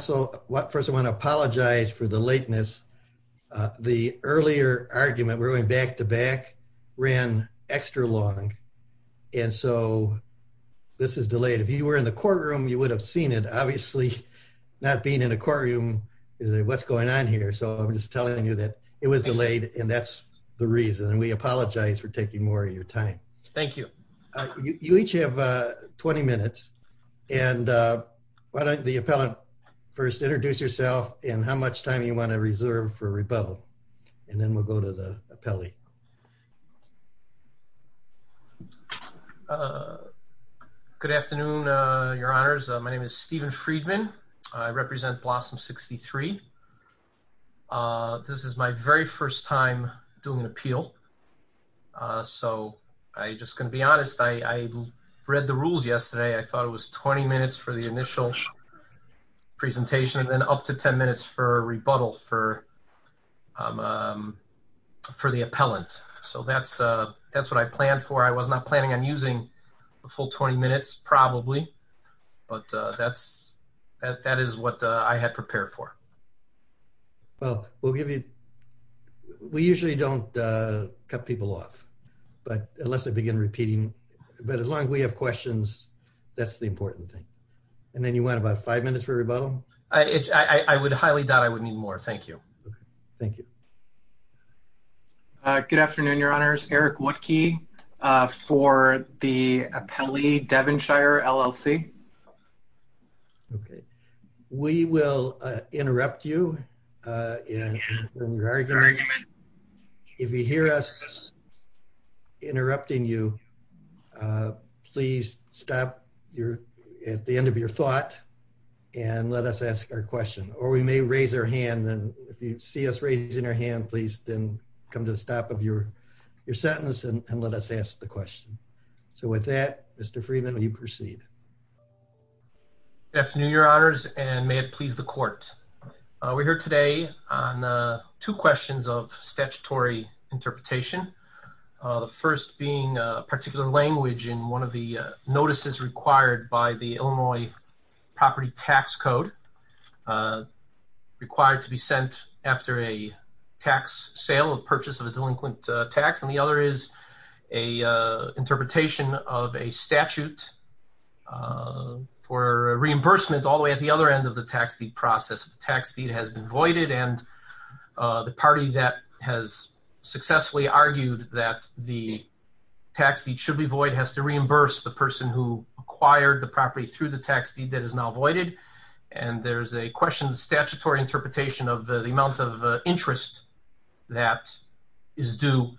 So first I want to apologize for the lateness. The earlier argument, we're going back to back, ran extra long and so this is delayed. If you were in the courtroom, you would have seen it. Obviously not being in a courtroom, what's going on here? So I'm just telling you that it was delayed and that's the reason and we apologize for taking more of your time. Thank you. You each have 20 minutes and why don't the appellant first introduce yourself and how much time you want to reserve for rebuttal and then we'll go to the appellee. Good afternoon, your honors. My name is Stephen Friedman. I represent Blossom 63. This is my very first time doing an appeal so I'm just going to be honest. I read the rules yesterday. I thought it was 20 minutes for the initial presentation and then up to 10 minutes for rebuttal for the appellant. So that's what I planned for. I was not planning on using a full 20 minutes probably but that is what I had prepared for. Well, we'll give you, we usually don't cut people off but unless they begin repeating, but as long as we have questions, that's the important thing. And then you want about five minutes for rebuttal? I would highly doubt I would need more. Thank you. Thank you. Good afternoon, your honors. Eric Woodkey for the appellee Devonshire LLC. Okay, we will interrupt you. If you hear us interrupting you, please stop at the end of your thought and let us ask our question or we may raise our hand and if you see us raising our hand, please then come to the stop of your sentence and let us ask the question. Good afternoon, your honors and may it please the court. We're here today on two questions of statutory interpretation. The first being a particular language in one of the notices required by the Illinois property tax code required to be sent after a tax sale or purchase of a delinquent tax. And the other is a interpretation of a statute for reimbursement all the way at the other end of the tax fee process. Tax fee has been voided and the party that has successfully argued that the tax fee should be void has to reimburse the person who acquired the property through the tax fee that is now voided. And there's a question of statutory interpretation of the amount of interest that is due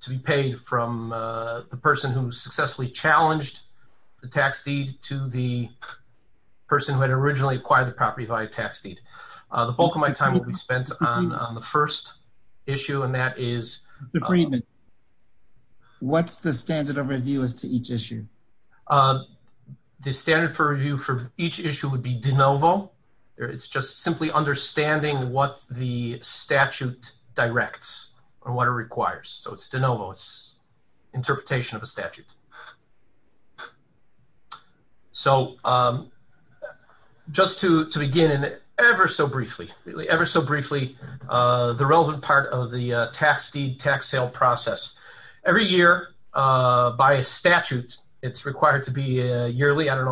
to be paid from the person who successfully challenged the tax fee to the person who had originally acquired the property via tax fee. The bulk of my time will be spent on the first issue and that is... Agreement. What's the standard of review as to each issue? The standard for review for each issue would be de novo. It's just simply understanding what the statute directs or what it requires. So it's de novo. It's interpretation of a statute. So just to begin ever so briefly, ever so briefly, the relevant part of the tax deed tax sale process. Every year by a statute it's required to be in every county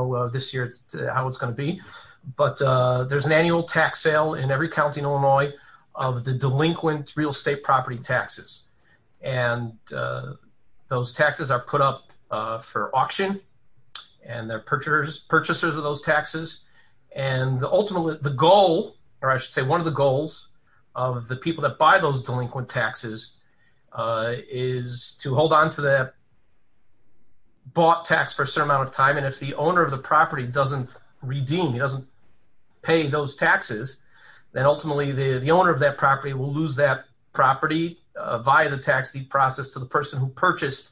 in Illinois of the delinquent real estate property taxes. And those taxes are put up for auction and they're purchasers of those taxes. And the ultimate, the goal, or I should say one of the goals of the people that buy those delinquent taxes is to hold onto the bought tax for a certain amount of time. And if the owner of the property doesn't redeem, he doesn't pay those taxes, then ultimately the owner of that property will lose that property via the tax deed process to the person who purchased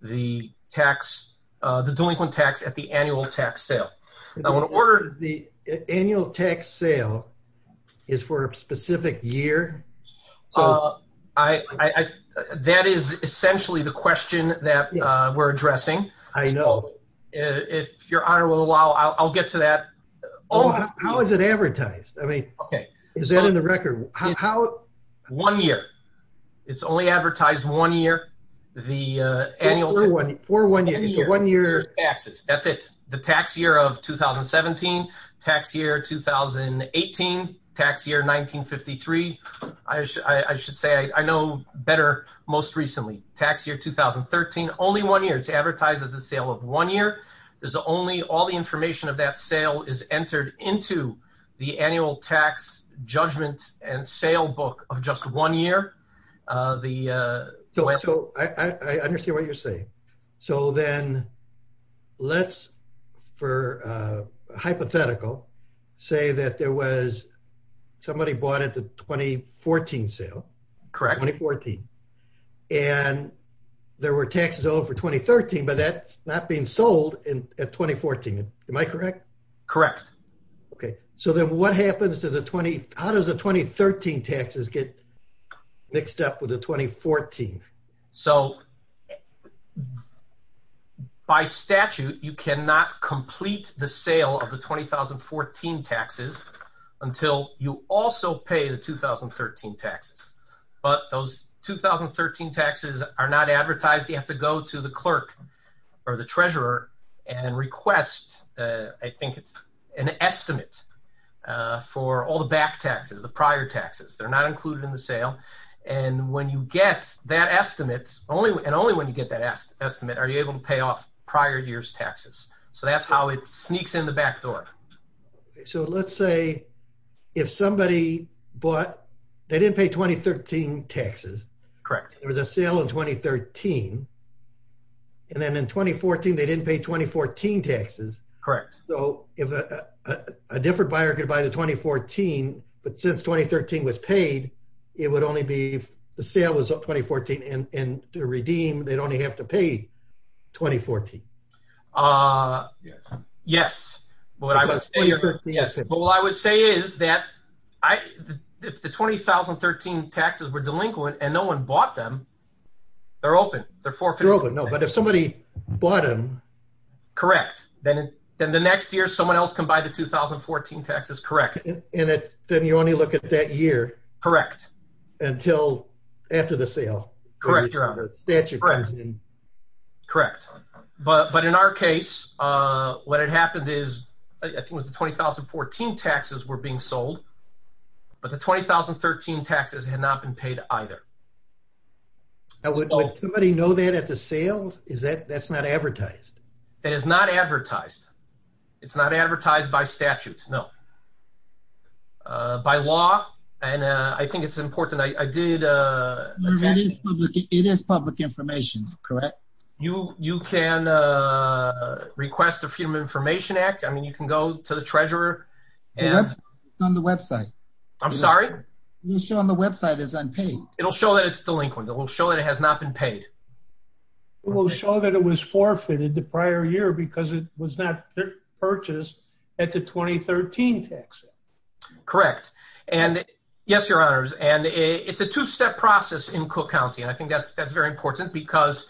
the tax, the delinquent tax at the annual tax sale. Now what order the annual tax sale is for a specific year? That is essentially the question that we're addressing. I know. If your honor will allow, I'll get to that. Oh, how is it advertised? I mean, okay. Is that in the record? How? One year. It's only advertised one year. The annual. For one year. One year. That's it. The tax year of 2017, tax year 2018, tax year 1953. I should say I know better most recently. Tax year 2013. Only one year. It's advertised as a sale of one year. There's only all the information of that sale is entered into the annual tax judgment and sale book of just one year. I understand what you're saying. So then let's, for hypothetical, say that there was somebody bought at the 2014 sale. Correct. 2014. And there were taxes owed for 2013, but that's not being sold in at 2014. Am I correct? Correct. Okay. So then what happens to the 20, how does the 2013 taxes get mixed up with the 2014? So by statute, you cannot complete the sale of the 2014 taxes until you also pay the 2013 taxes. But those 2013 taxes are not advertised. You have to go to the clerk or the treasurer and request, I think it's an estimate for all the back taxes, the prior taxes. They're not included in the sale. And when you get that estimate, and only when you get that estimate, are you able to pay off prior year's taxes. So that's how it sneaks in the back door. So let's say if somebody bought, they didn't pay 2013 taxes. Correct. There was a sale in 2013. And then in 2014, they didn't pay 2014 taxes. Correct. So if a different buyer could buy the 2014, but since 2013 was paid, it would only be, the sale was 2014 and to redeem, they'd only have to pay 2014. Yes. But what I would say is that the 2013 taxes were delinquent and no one bought them. They're open. They're forfeit. They're open. No, but if somebody bought them. Correct. Then the next year, someone else can buy the 2014 taxes. Correct. And then you only look at that year. Correct. Until after the sale. Correct. Correct. But in our case, what had happened is, I think it was the 2014 taxes were being sold, but the 2013 taxes had not been paid either. Would somebody know that at the sales? Is that, that's not advertised. It is not advertised. It's not advertised by statutes. No. By law. And I think it's important. I did. It is public information. Correct. You can a request of human information act. I mean, you can go to the treasurer and on the website. I'm sorry. You show on the website is unpaid. It'll show that it's delinquent. It will show that it has not been paid. It will show that it was forfeited the prior year because it was not purchased at the 2013 tax. Correct. And yes, your honors. And it's a two-step process in Cook County. And I think that's very important because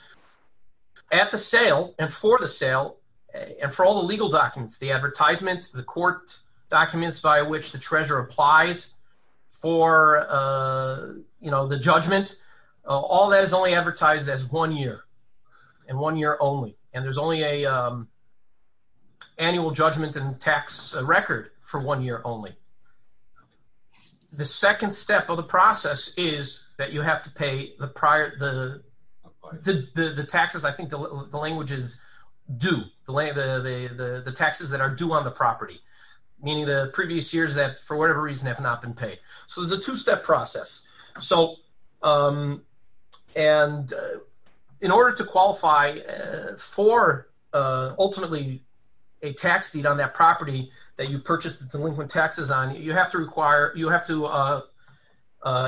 at the sale and for the sale and for all the legal documents, the advertisements, the court documents by which the treasurer applies for, you know, the judgment, all that is only advertised as one year and one year only. And there's only a annual judgment and tax record for one year only. The second step of the process is that you have to pay the prior, the taxes, I think the language is due, the taxes that are due on the property. Meaning the previous years that for whatever reason have not been paid. So the two-step process. So and in order to qualify for ultimately a tax deed on that property that you purchased the delinquent taxes on, you have to require, you have to,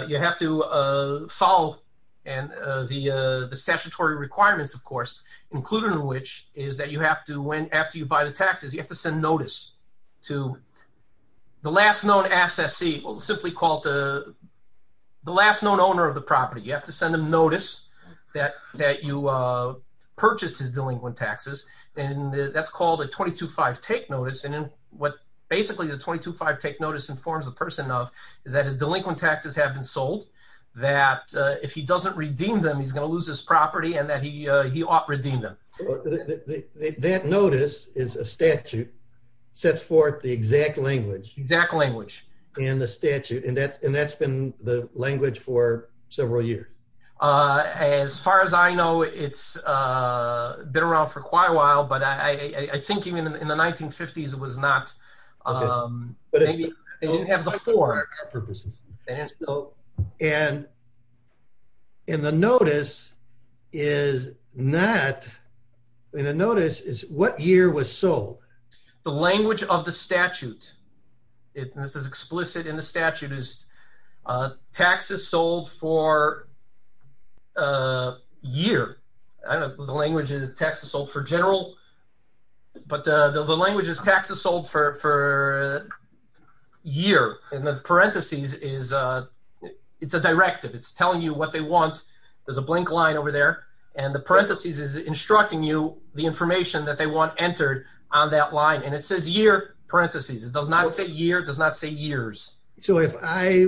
you have to follow the statutory requirements, of course, including which is that you have to, when, after you buy the taxes, you have to send notice to the last known asset, simply called the last known owner of the property. You have to send notice that you purchased his delinquent taxes and that's called a 22-5 take notice. And then what basically the 22-5 take notice informs the person of that his delinquent taxes have been sold, that if he doesn't redeem them, he's going to lose his property and that he ought to redeem them. That notice is a statute, sets forth the exact language. Exact language. And the statute and that's been the language for several years. As far as I know, it's been around for quite a while, but I think even in the 1950s it was not, they didn't have the form. And the notice is not, the notice is what year was sold. The language of the statute, it is explicit in the statute is taxes sold for a year. I don't know if the language is taxes sold for general, but the language is taxes sold for a year. And the parentheses is, it's a directive. It's telling you what they want. There's a blank line over there. And the parentheses is instructing you the information that they want entered on that line. And it says year parentheses. It does not say years. It does not say years. So if I,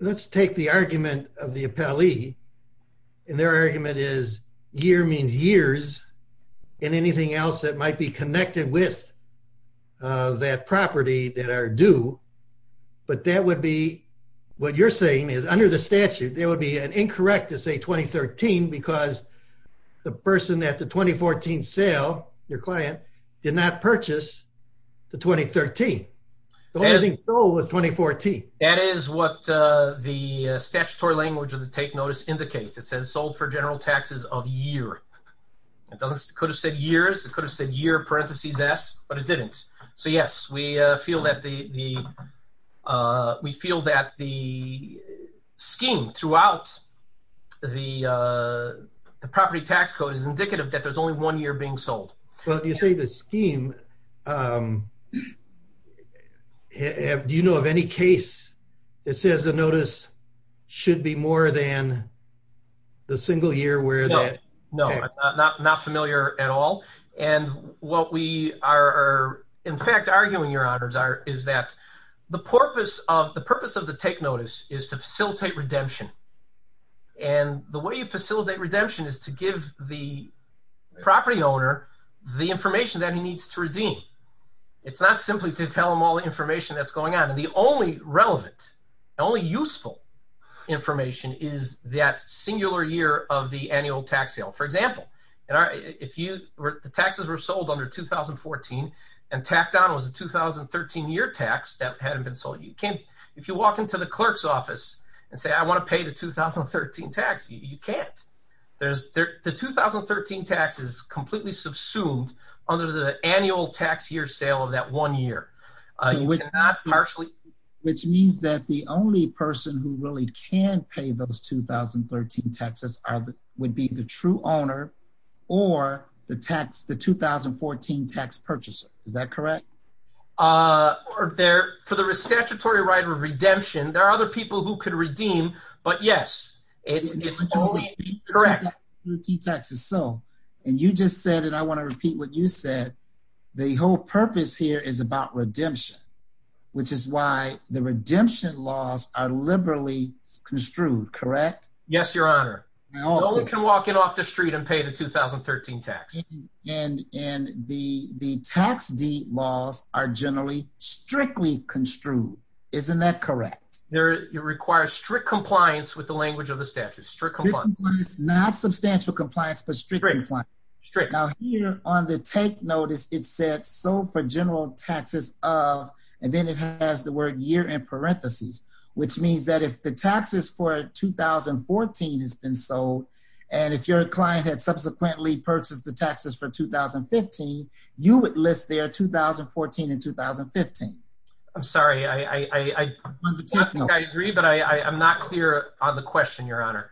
let's take the argument of the appellee and their argument is year means years and anything else that might be connected with that property that are due. But that would be what you're saying is under the statute, there will be an incorrect to say 2013 because the person that the 2014 sale, your client, did not purchase the 2013. The only thing sold was 2014. That is what the statutory language of the take notice indicates. It says sold for general taxes of year. It could have said years. It could have said year parentheses S, but it didn't. So that the scheme throughout the property tax code is indicative that there's only one year being sold. So you say the scheme, do you know of any case that says the notice should be more than the single year? No, not familiar at all. And what we are in fact, arguing your honors is that the purpose of the purpose of the take notice is to facilitate redemption. And the way you facilitate redemption is to give the property owner the information that he needs to redeem. It's not simply to tell them all the information that's going on. And the only relevant, the only useful information is that singular year of the annual tax sale. For example, if the taxes were sold under 2014 and tacked on was a 2013 year tax that hadn't been sold, if you walk into the clerk's office and say, I want to pay the 2013 tax, you can't. The 2013 tax is completely subsumed under the annual tax year sale of that one year. Which means that the only person who really can pay those 2013 taxes would be the true owner or the 2014 tax purchaser. Is that correct? For the statutory right of redemption, there are other people who could redeem, but yes. Correct. And you just said it, I want to repeat what you said. The whole purpose here is about redemption, which is why the redemption laws are liberally construed, correct? Yes, your honor. No one can get off the street and pay the 2013 tax. And the tax deed laws are generally strictly construed. Isn't that correct? They require strict compliance with the language of the statute. Not substantial compliance, but strict compliance. Now here on the take notice, it said sold for general taxes of, and then it has the word year in parentheses, which means that if the taxes for 2014 has been sold, and if your client had subsequently purchased the taxes for 2015, you would list their 2014 and 2015. I'm sorry, I agree, but I'm not clear on the question, your honor.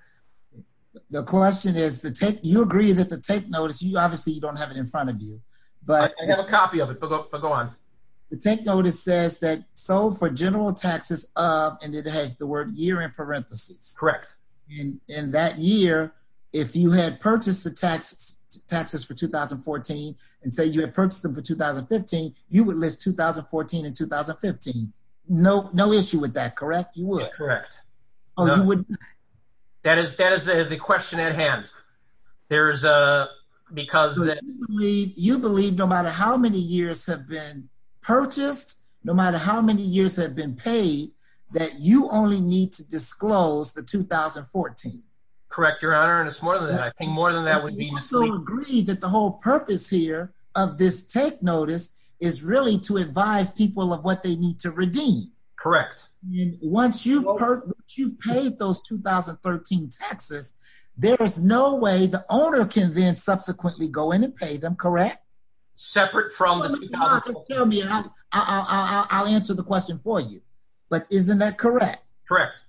The question is the take, you agree that the take notice, obviously you don't have it in front of you. I have a copy of it, but go on. The take notice says that sold for general taxes of, and it has the word year in parentheses. Correct. And that year, if you had purchased the taxes for 2014, and say you had purchased them for 2015, you would list 2014 and 2015. No issue with that, correct? You would. Correct. That is a question at hand. There's a, because. You believe no matter how many years have been purchased, no matter how many years have been paid, that you only need to disclose the 2014. Correct, your honor, and it's more than that. I think more than that would be. So you agree that the whole purpose here of this take notice is really to advise people of what they need to redeem. Correct. Once you've paid those 2013 taxes, there is no way the owner can then subsequently go in and pay them, correct? Separate from. I'll answer the question for you, but isn't that correct? Correct.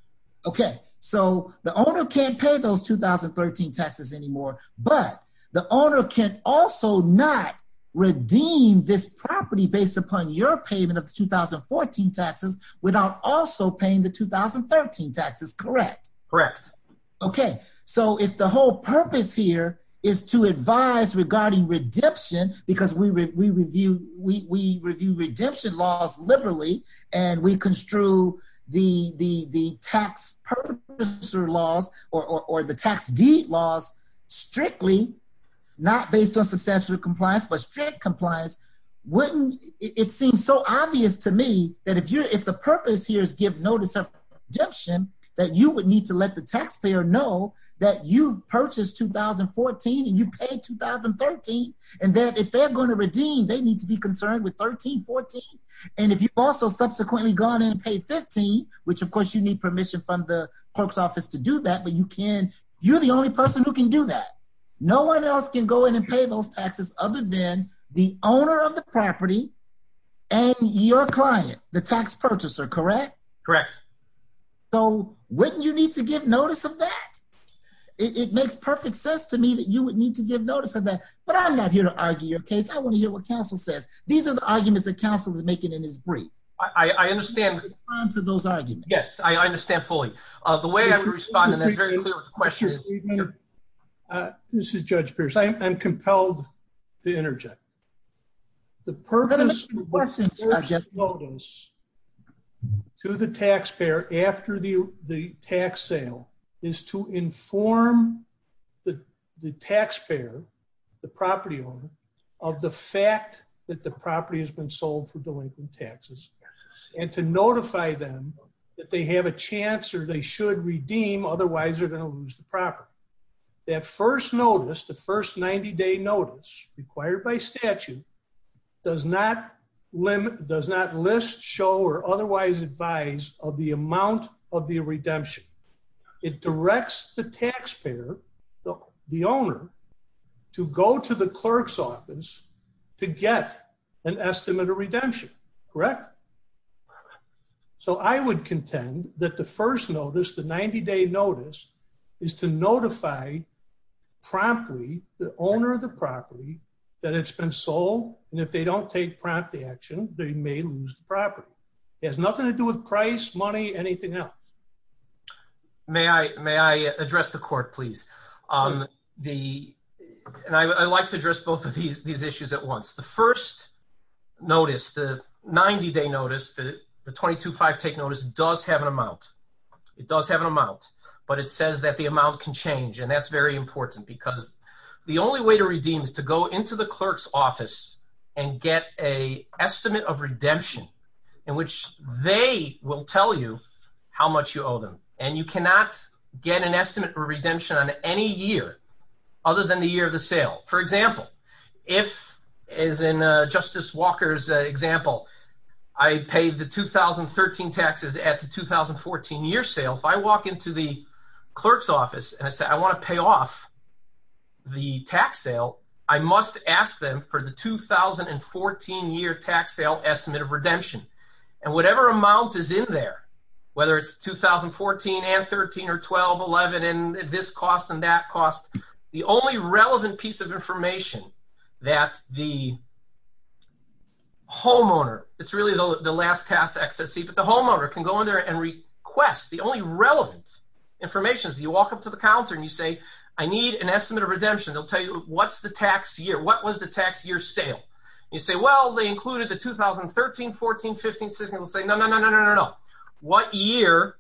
Okay, so the owner can't pay those 2013 taxes anymore, but the owner can also not redeem this property based upon your payment of the 2014 taxes without also paying the 2013 taxes, correct? Correct. Okay, so if the whole purpose here is to advise regarding redemption, because we review redemption laws liberally, and we construe the tax purchaser laws or the tax deed laws strictly, not based on substantial compliance, but strict compliance, wouldn't it seem so obvious to me that if the purpose here is give notice of redemption, that you would need to let the taxpayer know that you purchased 2014 and you paid 2013, and that if they're going to redeem, they need to be concerned with 1314. And if you've also subsequently gone in and paid 15, which of course you need permission from the clerk's office to do that, but you can, you're the only person who can do that. No one else can go in and pay those taxes other than the owner of the property and your client, the tax purchaser, correct? Correct. So wouldn't you need to give notice of that? It makes perfect sense to me that you would need to give notice of that, but I'm not here to argue your case. I want to hear what counsel says. These are the arguments that counsel is making in his brief. I understand. Those arguments. Yes, I understand fully. The way I can respond to that question is... This is Judge Pierce. I'm compelled to interject. The purpose of giving notice to the taxpayer after the tax sale is to inform the taxpayer, the property owner, of the fact that the property has been sold for delinquent taxes and to notify them that they have a chance or they should redeem, otherwise they're going to lose the property. That first notice, the first 90 day notice required by statute, does not list, show, or otherwise advise of the amount of the redemption. It directs the taxpayer, the owner, to go to the clerk's office to get an estimate of redemption, correct? Correct. So I would contend that the first notice, the 90 day notice, is to notify promptly the owner of the property that it's been sold and if they don't take prompt action, they may lose the property. It has nothing to do with price, money, anything else. May I address the court, please? I like to address both of these issues at once. The first notice, the 90 day notice, the 22-5 take notice, does have an amount. It does have an amount, but it says that the amount can change and that's very important because the only way to redeem is to go into the clerk's office and get an estimate of redemption in which they will tell you how much you owe them and you cannot get an estimate for redemption on any year other than the year of the sale. For example, if, as in Justice Walker's example, I paid the 2013 taxes at the 2014 year sale, if I walk into the clerk's office and I say I want to pay off the tax sale, I must ask them for the 2014 year tax sale estimate of redemption. And whatever amount is in there, whether it's 2014 and 13 or 12, 11, and this cost and that cost, the only relevant piece of information that the homeowner, it's really the last pass exit seat, but the homeowner can go in there and request, the only relevant information is you walk up to the counter and you say, I need an estimate of redemption. They'll tell you what's the tax year, what was the tax year sale? You say, well, they included the 2013, 14, 15, 16. They'll say, no, no, no, no, no, no, no. What year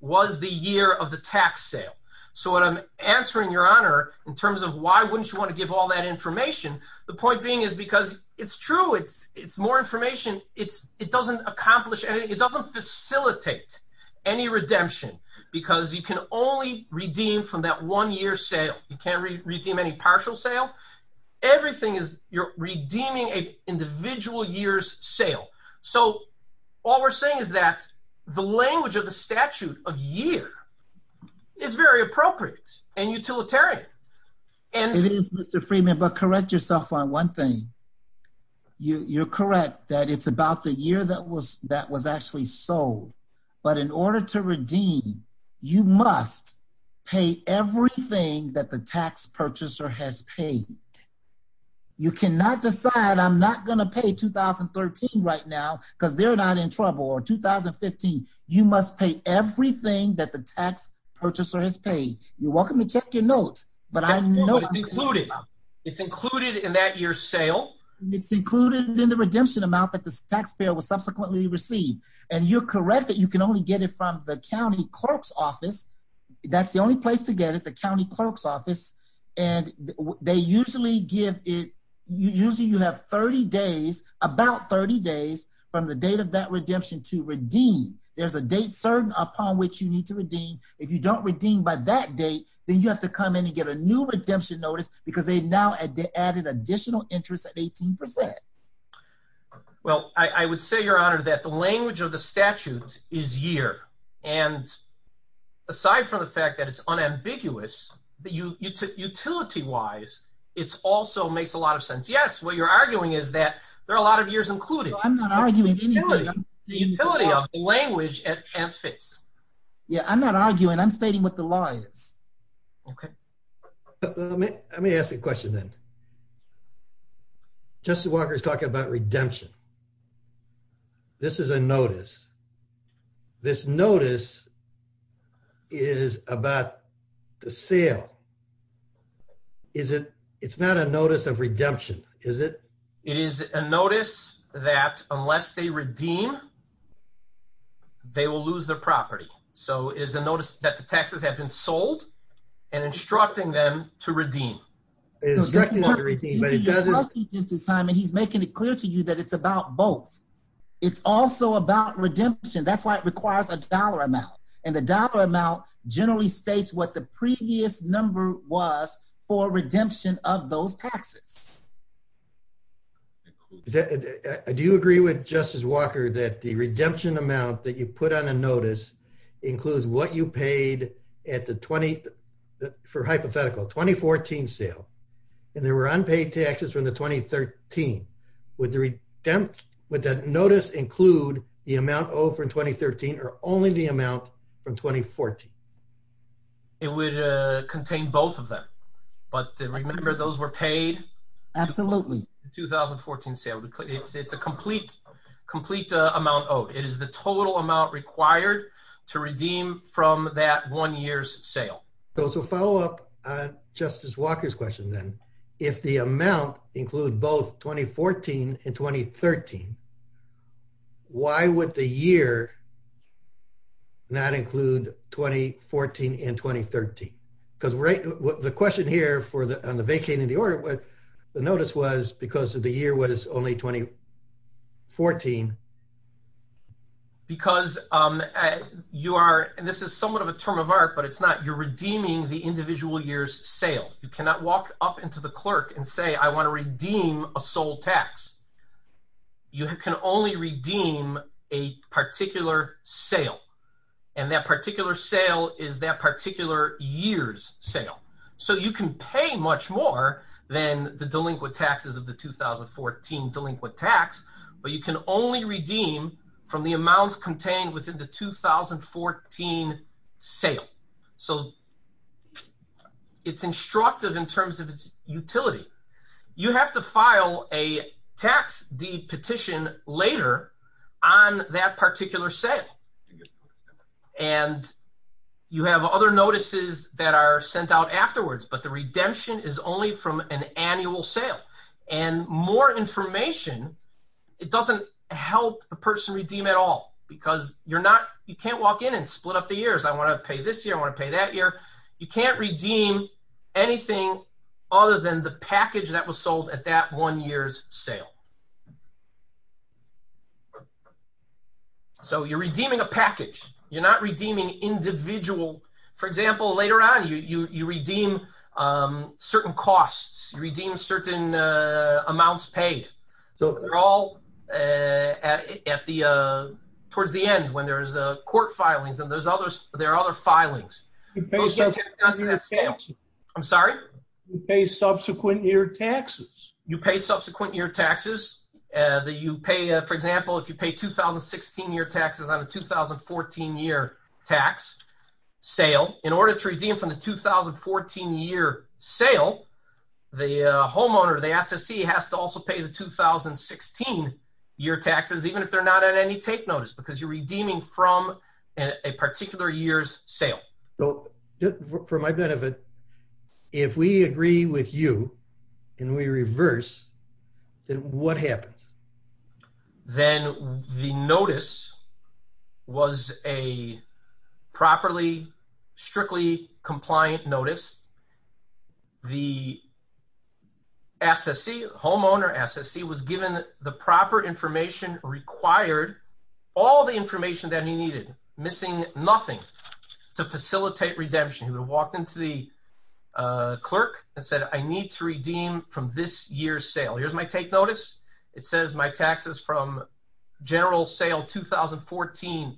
was the year of the tax sale? So what I'm answering, Your Honor, in terms of why wouldn't you want to give all that information, the point being is because it's true. It's more information. It doesn't accomplish anything. It doesn't facilitate any redemption because you can only redeem from that one year sale. You can't redeem any partial sale. Everything is, you're redeeming an individual year's sale. So all we're saying is that the language of the statute of year is very appropriate and utilitarian. It is, Mr. Freeman, but correct yourself on one thing. You're correct that it's about the year that was actually sold, but in order to redeem, you must pay everything that the tax purchaser has paid. You cannot decide, I'm not going to pay 2013 right now because they're not in trouble or 2015. You must pay everything that the tax purchaser has paid. You're welcome to check your notes, but I know- It's included in that year's sale. It's included in the redemption amount that the taxpayer will subsequently receive, and you're correct that you can only get it from the county clerk's office. That's the only place to get it, the county clerk's office, and they usually give it, usually you have 30 days, about 30 days from the date of that redemption to redeem. There's a date certain upon which you need to redeem. If you don't redeem by that date, then you have to come in and get a new redemption notice because they've now added additional interest at 18%. Well, I would say, Your Honor, that the language of the statute is year, and aside from the fact that it's unambiguous, utility-wise, it also makes a lot of sense. Yes, what you're arguing is that there are a lot of years included. I'm not arguing- The utility of the language has fixed. Yeah, I'm not arguing. I'm stating what the law is. Okay. Let me ask a question then. Justice Walker is talking about redemption. This is a notice. This notice is about the sale. It's not a notice of redemption, is it? It is a notice that, unless they redeem, they will lose their property. So, it's a notice that the taxes have been sold and instructing them to redeem. He's making it clear to you that it's about both. It's also about redemption. That's why it requires a dollar amount, and the dollar amount generally states what the previous number was for redemption of those taxes. Does that- Do you agree with Justice Walker that the redemption amount that you put on a notice includes what you paid at the 20- for hypothetical, 2014 sale, and there were unpaid taxes for the 2013? Would the notice include the amount owed for 2013 or only the amount from 2014? It would contain both of them, but remember those were paid- Absolutely.... for the 2014 sale. It's a complete amount owed. It is the total amount required to redeem from that one year's sale. So, to follow up Justice Walker's question then, if the amount include both 2014 and 2013, why would the year not include 2014 and 2013? Because right- The question here for the- On the vacating the order, the notice was because of the year was only 2014. Because you are- And this is somewhat of a term of art, but it's not. You're redeeming the individual year's sale. You cannot walk up into the clerk and say, I want to redeem a sold tax. You can only redeem a particular sale, and that particular sale is that particular year's sale. So, you can pay much more than the delinquent taxes of the 2014 delinquent tax, but you can only redeem from the amounts contained within the 2014 sale. So, it's instructive in terms of its utility. You have to file a tax-deed petition later on that particular sale, and you have other notices that are sent out afterwards, but the redemption is only from an annual sale. And more information, it doesn't help the person redeem at all, because you're not- You can't walk in and split up the years. I want to pay this year, I want to pay that year. You can't redeem anything other than the package that was sold at that one year's sale. So, you're redeeming a package. You're not redeeming individual- For example, later on, you redeem certain costs. You redeem certain amounts paid. So, they're all towards the end when there's court filings, and there are other filings. I'm sorry? You pay subsequent year taxes. You pay subsequent year taxes. For example, if you pay 2016 year taxes on a 2014 year tax sale, in order to redeem from the 2014 year sale, the homeowner, the SSE, has to also pay the 2016 year taxes, even if they're not on any take notice, because you're redeeming from a particular year's sale. So, for my benefit, if we agree with you, and we reverse, then what happens? Then the notice was a properly, strictly compliant notice. The SSE, homeowner SSE, was given the proper information required, all the information that he needed, missing nothing, to facilitate redemption. He would walk into the clerk and said, I need to redeem from this year's sale. Here's my take notice. It says my taxes from general sale 2014,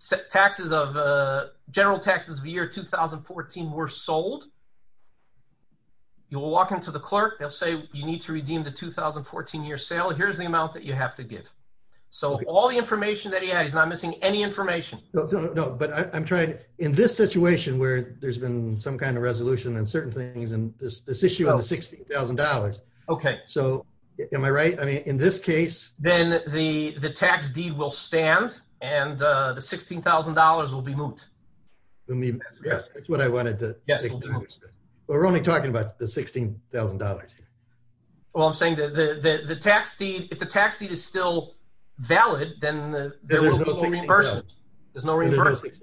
general taxes of the year 2014 were sold. You'll walk into the clerk and say, you need to redeem the 2014 year sale. Here's the amount that you have to give. So, all the information that he had, he's not missing any information. No, but I'm trying, in this situation where there's been some kind of resolution and certain things, and this issue of $16,000. Okay. So, am I right? I mean, in this case... Then the tax deed will stand, and the $16,000 will be moot. Yes, that's what I wanted to... We're only talking about the $16,000. Well, I'm saying the tax deed, if the tax deed is still valid, then there will be no reimbursement. There's no reimbursement.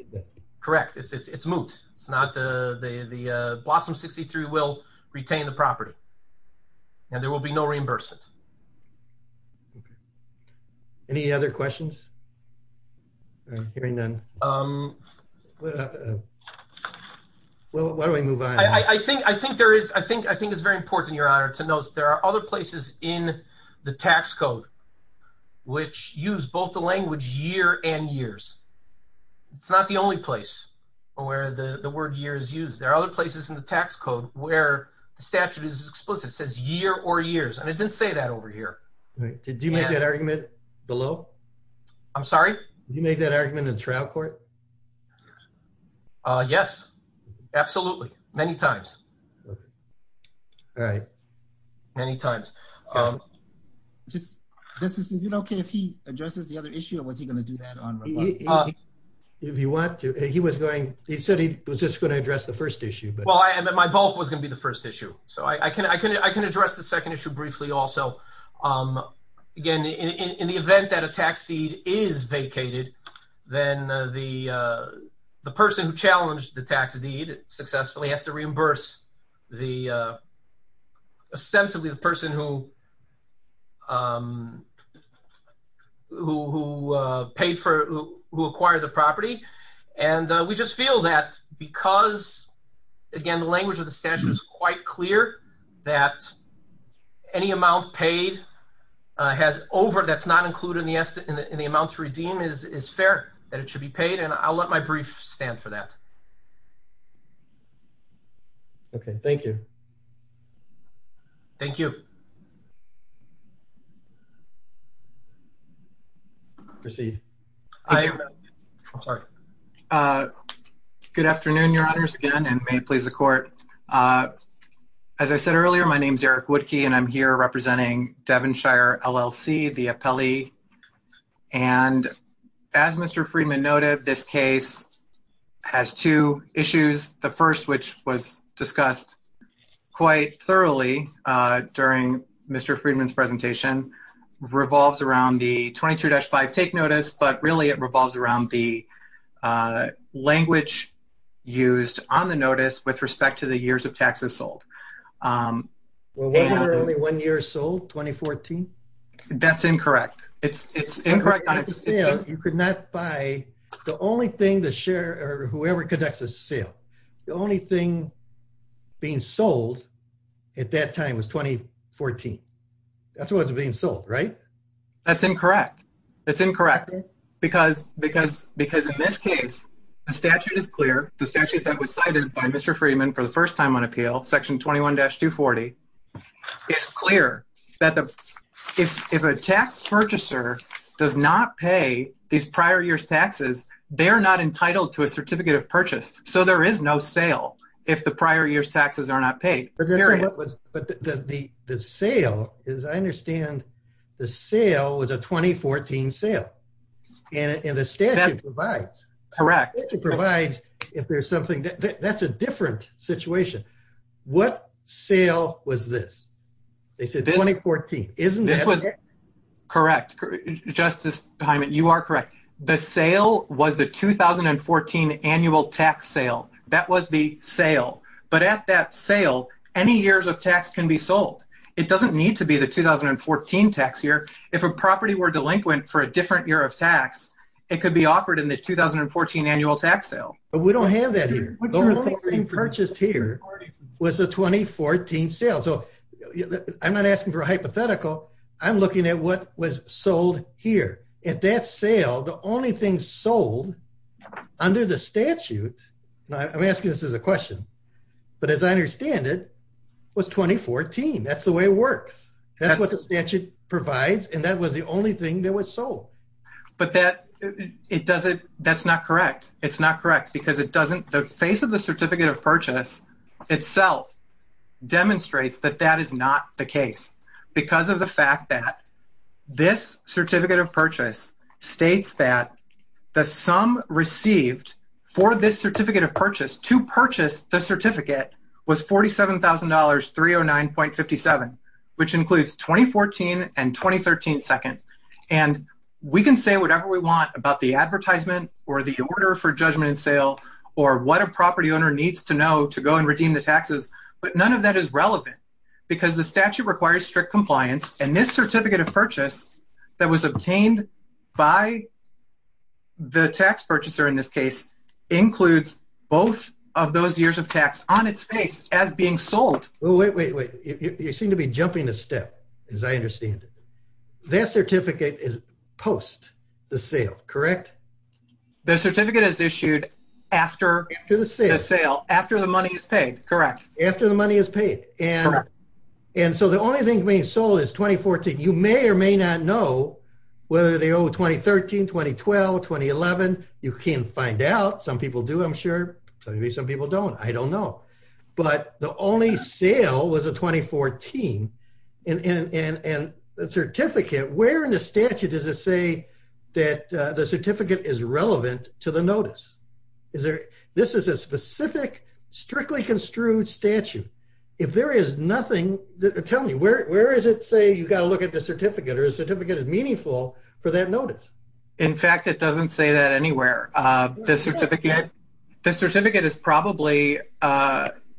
Correct. It's moot. It's not the... Blossom 63 will retain the property, and there will be no reimbursement. Any other questions? I'm hearing none. Well, why don't we move on? I think it's very important, Your Honor, to note there are other places in the tax code which use both the language year and years. It's not the only place where the word year is used. There are other places in the tax code where the statute is explicit. It says year or years, and it didn't say that over here. Did you make that argument below? I'm sorry? Did you make that argument in the trial court? Yes. Absolutely. Many times. All right. Many times. Justice, is it okay if he addresses the other issue, or was he going to do that on his own? If you want to. He said he was just going to address the first issue. Well, my both was going to be the first issue. I can address the second issue briefly also. Again, in the event that a tax deed is vacated, then the person who challenged the tax deed successfully has to reimburse ostensibly the person who acquired the property. We just feel that, because, again, the language of the statute is quite clear, that any amount paid that's not included in the amounts redeemed is fair, that it should be paid. I'll let my brief stand for that. Okay. Thank you. Thank you. Proceed. Good afternoon, your honors, again, and may it please the court. As I said earlier, my name's Eric Woodkey, and I'm here representing Devonshire LLC, the appellee. And as Mr. Friedman noted, this case has two issues. The first, which was discussed quite thoroughly during Mr. Friedman's presentation, revolves around the 22-5 take notice, but really it revolves around the language used on the notice with respect to the years of taxes sold. Well, they had only one year sold, 2014. That's incorrect. It's incorrect. You could not buy, the only thing the share, or whoever conducts the sale, the only thing being sold at that time was 2014. That's what was being sold, right? That's incorrect. It's incorrect. Because in this case, the statute is clear, the statute that was cited by Mr. Friedman for the first time on appeal, section 21-240, it's clear that if a tax purchaser does not pay these prior year's taxes, they're not entitled to a certificate of purchase. So there is no sale if the prior year's taxes are not paid. But the sale, as I understand, the sale was a 2014 sale, and the statute provides. It provides if there's something, that's a different situation. What sale was this? They said 2014. Correct. Justice Hyman, you are correct. The sale was the 2014 annual tax sale. That was the sale. But at that sale, any years of tax can be sold. It doesn't need to be the 2014 tax year. If a property were delinquent for a different year of tax, it could be offered in 2014 annual tax sale. But we don't have that here. The only thing purchased here was the 2014 sale. So I'm not asking for a hypothetical. I'm looking at what was sold here. At that sale, the only thing sold under the statute, I'm asking this as a question, but as I understand it, was 2014. That's the way it works. That's what the statute provides, and that was the only thing that was That's not correct. It's not correct, because the face of the certificate of purchase itself demonstrates that that is not the case, because of the fact that this certificate of purchase states that the sum received for this certificate of purchase to purchase the certificate was $47,309.57, which includes 2014 and 2013 seconds. And we can say whatever we want about the advertisement or the order for judgment sale or what a property owner needs to know to go and redeem the taxes, but none of that is relevant, because the statute requires strict compliance, and this certificate of purchase that was obtained by the tax purchaser in this case includes both of those years of tax on its face as being sold. Well, wait, wait, wait. You seem to be jumping the step, as I understand it. That certificate is post the sale, correct? The certificate is issued after the sale, after the money is paid, correct. After the money is paid, and so the only thing being sold is 2014. You may or may not know whether they owe 2013, 2012, 2011. You can find out. Some people do, I'm sure. Maybe some people don't. I don't know, but the only sale was 2014, and the certificate, where in the statute does it say that the certificate is relevant to the notice? This is a specific, strictly construed statute. If there is nothing, tell me, where is it say you've got to look at the certificate, or the certificate is meaningful for that notice? In fact, it doesn't say that anywhere. The certificate is probably,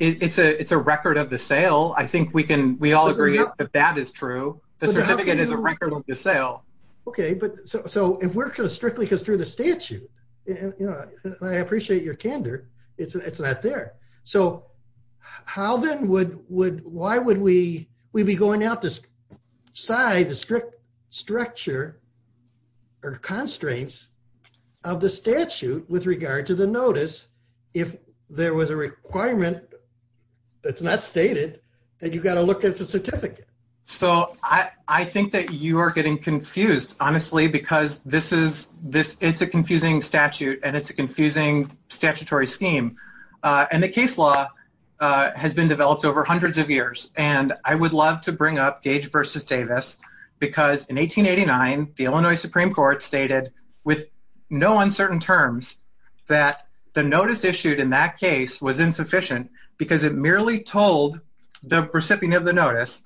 it's a record of the sale. I think we can, we all agree that that is true. The certificate is a record of the sale. Okay, but so if we're strictly through the statute, you know, I appreciate your candor, it's not there. So how then would, why would we be going out to decide the strict structure or constraints of the statute with regard to the notice if there was a requirement that's stated that you've got to look at the certificate? So I think that you are getting confused, honestly, because this is, it's a confusing statute, and it's a confusing statutory scheme. And the case law has been developed over hundreds of years, and I would love to bring up Gage versus Davis, because in 1889, the Illinois Supreme Court stated with no uncertain terms that the notice the recipient of the notice,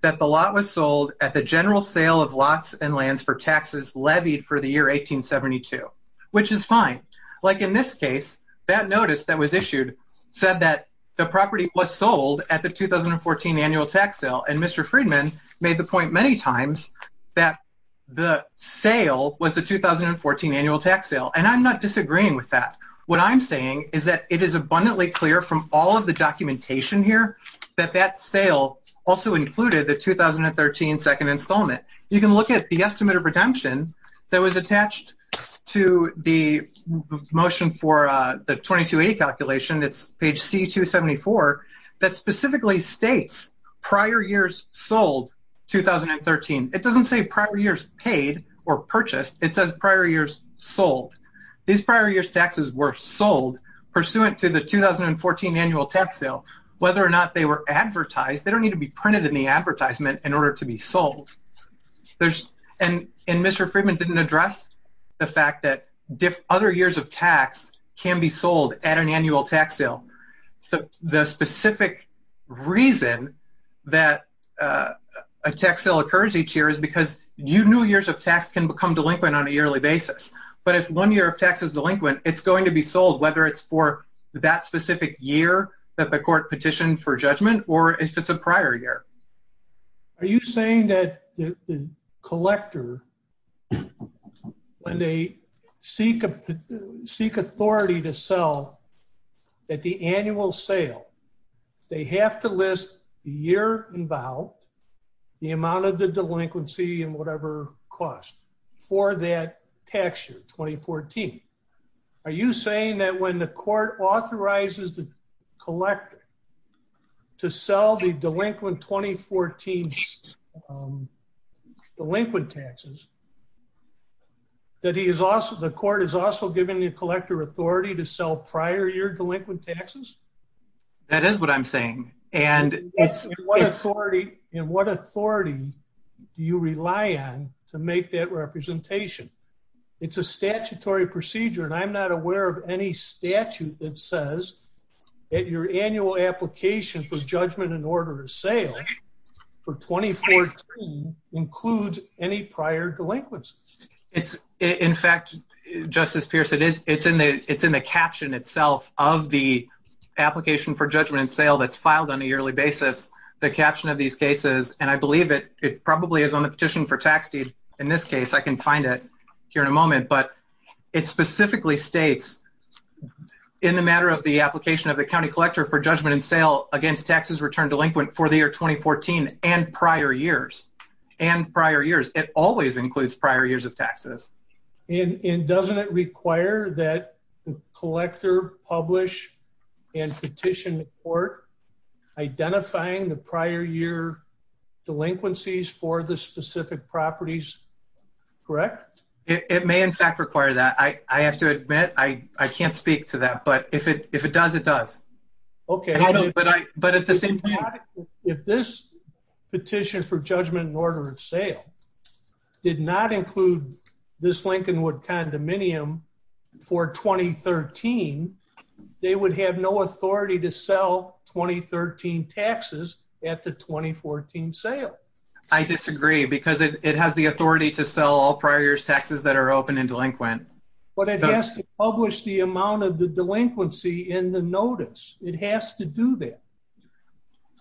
that the lot was sold at the general sale of lots and lands for taxes levied for the year 1872, which is fine. Like in this case, that notice that was issued said that the property was sold at the 2014 annual tax sale, and Mr. Friedman made the point many times that the sale was the 2014 annual tax sale. And I'm not disagreeing with that. What I'm saying is that it is abundantly clear from all of the documentation here that that sale also included the 2013 second installment. You can look at the estimate of redemption that was attached to the motion for the 22A calculation, it's page C274, that specifically states prior years sold 2013. It doesn't say prior years paid or purchased. It says prior years sold. These prior years taxes were sold pursuant to the 2014 annual tax sale. Whether or not they were advertised, they don't need to be printed in the advertisement in order to be sold. And Mr. Friedman didn't address the fact that other years of tax can be sold at an annual tax sale. So the specific reason that a tax sale occurs each year is because new years of tax can become delinquent on a yearly basis. But if one year of tax is delinquent, it's going to be sold whether it's for that specific year that the court petitioned for judgment or if it's a prior year. Are you saying that the collector, when they seek authority to sell at the annual sale, they have to list the year involved, the amount of the delinquency and whatever cost for that tax year, 2014. Are you saying that when the court authorizes the collector to sell the delinquent 2014 delinquent taxes, that the court is also giving the collector authority to sell prior year delinquent taxes? That is what I'm saying. And what authority do you rely on to make that it's a statutory procedure? And I'm not aware of any statute that says that your annual application for judgment and order of sale for 2014 includes any prior delinquency. In fact, Justice Pierce, it's in the caption itself of the application for judgment and sale that's filed on a yearly basis, the caption of these cases. And I believe it probably is on petition for taxes in this case. I can find it here in a moment. But it specifically states in the matter of the application of the county collector for judgment and sale against taxes returned delinquent for the year 2014 and prior years, and prior years, it always includes prior years of taxes. And doesn't it require that the collector publish and petition the court identifying the prior year delinquencies for the specific properties? Correct? It may, in fact, require that. I have to admit, I can't speak to that. But if it does, it does. Okay. But at the same time... If this petition for judgment and order of sale did not include this Lincolnwood condominium for 2013, they would have no authority to sell 2013 taxes at the 2014 sale. I disagree because it has the authority to sell all prior years taxes that are open and delinquent. But it has to publish the amount of the delinquency in the notice. It has to do that.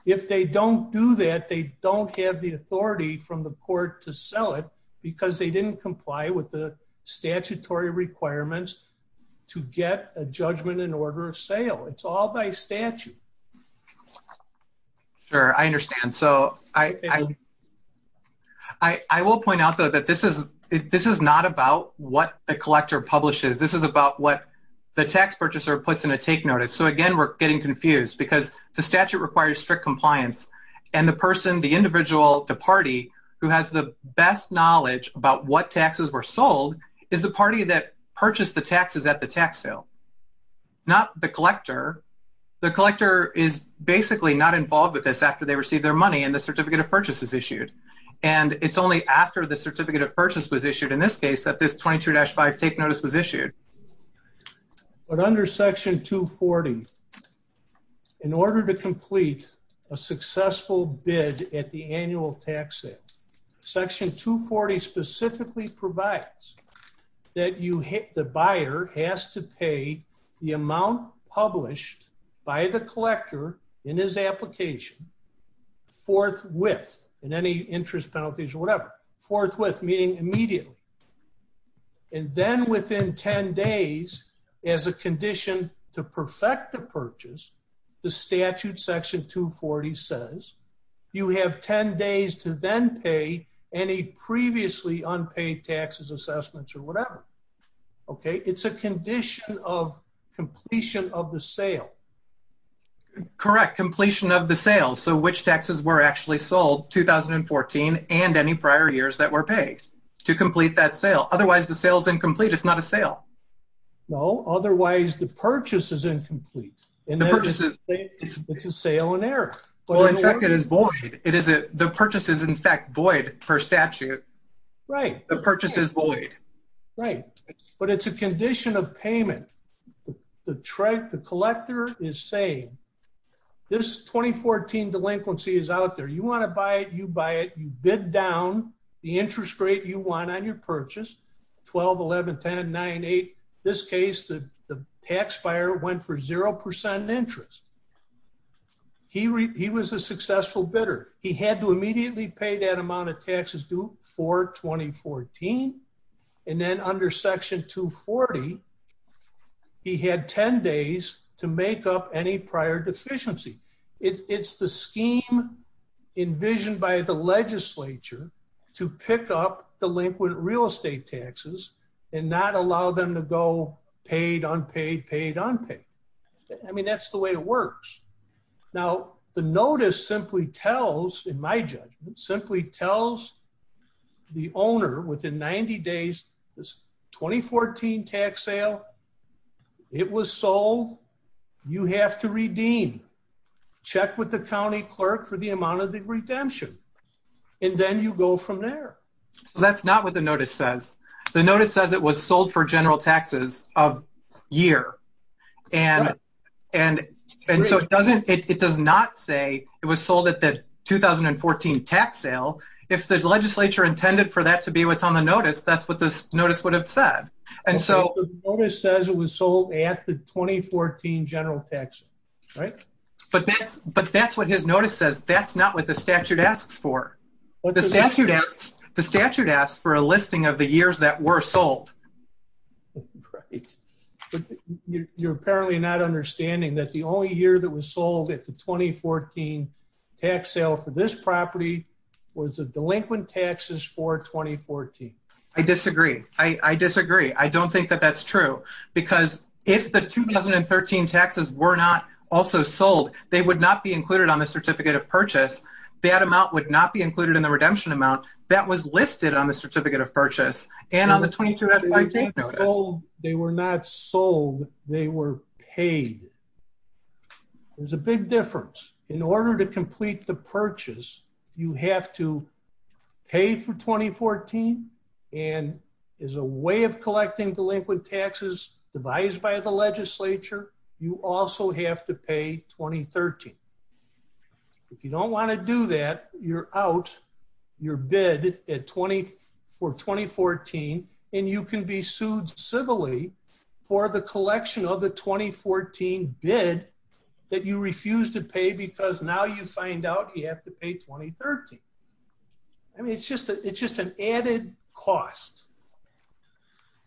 If they don't do that, they don't have the authority from the court to sell it because they didn't comply with the statutory requirements to get a judgment and order of sale. It's all by statute. Sure. I understand. So I will point out, though, that this is not about what the collector publishes. This is about what the tax purchaser puts in a take notice. So again, we're getting confused because the statute requires strict compliance. And the person, the individual, the party who has the best knowledge about what taxes were sold is the party that purchased the taxes at the tax sale, not the collector. The collector is basically not involved with this after they received their money and the certificate of purchase is issued. And it's only after the certificate of purchase was issued, in this case, that this 22-5 take notice was issued. But under Section 240, in order to complete a successful bid at the annual tax sale, Section 240 specifically provides that the buyer has to pay the amount published by the collector in his application forthwith, in any interest, penalties, whatever, forthwith meaning immediately. And then within 10 days, as a condition to perfect the purchase, the statute, Section 240, says, you have 10 days to then pay any previously unpaid taxes, assessments, or whatever. Okay. It's a condition of completion of the sale. Correct. Completion of the sale. So which taxes were actually sold, 2014, and any prior years that were paid to complete that sale? Otherwise, the sale is incomplete. It's not a sale. No. Otherwise, the purchase is incomplete. It's a sale in error. Well, in fact, it is void. The purchase is, in fact, void for a statute. Right. The purchase is void. Right. But it's a condition of payment. The collector is saying, this 2014 delinquency is out there. You want to buy it? You buy it. You bid down the interest rate you want on your purchase, 12, 11, 10, 9, 8. In this case, the tax buyer went for 0% interest. He was a successful bidder. He had to immediately pay that amount of taxes before 2014. And then under Section 240, he had 10 days to make up any prior deficiency. It's the scheme envisioned by the legislature to pick up delinquent real estate taxes and not allow them to go paid, unpaid, paid, unpaid. I mean, that's the way it works. Now, the notice simply tells, in my judgment, simply tells the owner within 90 days, this 2014 tax sale, it was sold. You have to redeem. Check with the county clerk for the amount of the redemption. And then you go from there. That's not what the notice says. The notice says it was sold for general taxes of year. And so it does not say it was sold at the 2014 tax sale. If the legislature intended for that to be what's on the notice, that's what this notice would have said. And so- The notice says it was sold after 2014 general taxes, right? But that's what his notice says. That's not what the statute asks for. The statute asks for a listing of the years that were sold. That's great. You're apparently not understanding that the only year that was sold at the 2014 tax sale for this property was the delinquent taxes for 2014. I disagree. I disagree. I don't think that that's true. Because if the 2013 taxes were not also sold, they would not be included on the certificate of purchase. That amount would not be included in the redemption amount that was listed on the certificate of purchase. And on the 2013 notice. They were not sold. They were paid. There's a big difference. In order to complete the purchase, you have to pay for 2014. And as a way of collecting delinquent taxes devised by the legislature, you also have to pay 2013. If you don't want to do that, you're out. You're out. You're out. And you can be sued civilly for the collection of the 2014 bid that you refused to pay because now you find out you have to pay 2013. I mean, it's just an added cost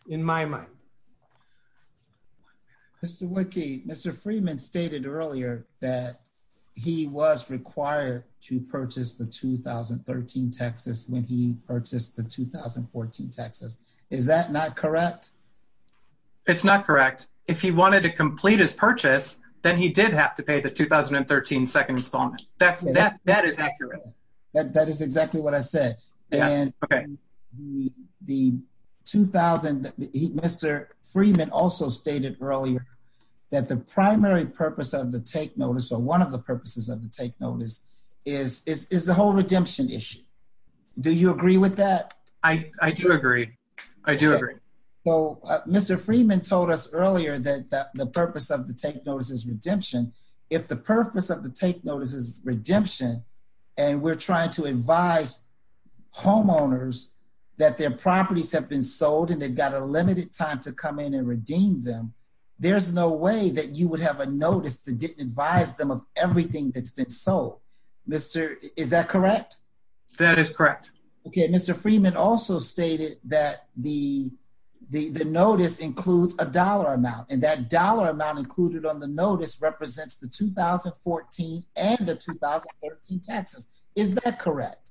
in my mind. Mr. Woodkey, Mr. Freeman stated earlier that he was required to purchase the 2013 taxes when he purchased the 2014 taxes. Is that not correct? It's not correct. If he wanted to complete his purchase, then he did have to pay the 2013 second installment. That is accurate. That is exactly what I said. Mr. Freeman also stated earlier that the primary purpose of the take notice or one of the purposes of the take notice is the whole redemption issue. Do you agree with that? I do agree. I do agree. So Mr. Freeman told us earlier that the purpose of the take notice is redemption. If the purpose of the take notice is redemption and we're trying to advise homeowners that their properties have been sold and they've got a limited time to come in and redeem them, there's no way that you would have a notice to advise them of everything that's been sold. Is that correct? That is correct. Okay. Mr. Freeman also stated that the notice includes a dollar amount, and that dollar amount included on the notice represents the 2014 and the 2014 taxes. Is that correct?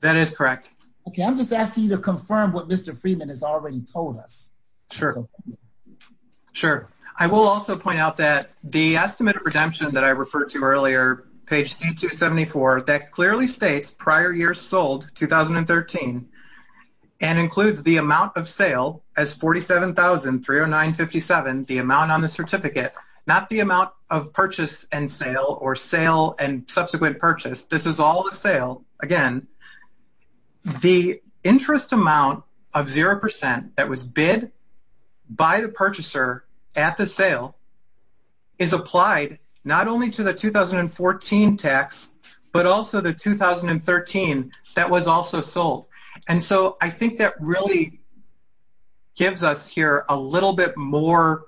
That is correct. Okay. I'm just asking you to confirm what Mr. Freeman has already told us. Sure. Sure. I will also point out that the estimate redemption that I referred to earlier, page 274, that clearly states prior years sold, 2013, and includes the amount of sale as $47,309.57, the amount on the certificate, not the amount of purchase and sale or sale and subsequent purchase. This is all the sale. Again, the interest amount of 0% that was bid by the purchaser at the sale is applied not only to the 2014 tax, but also the 2013 that was also sold. I think that really gives us here a little bit more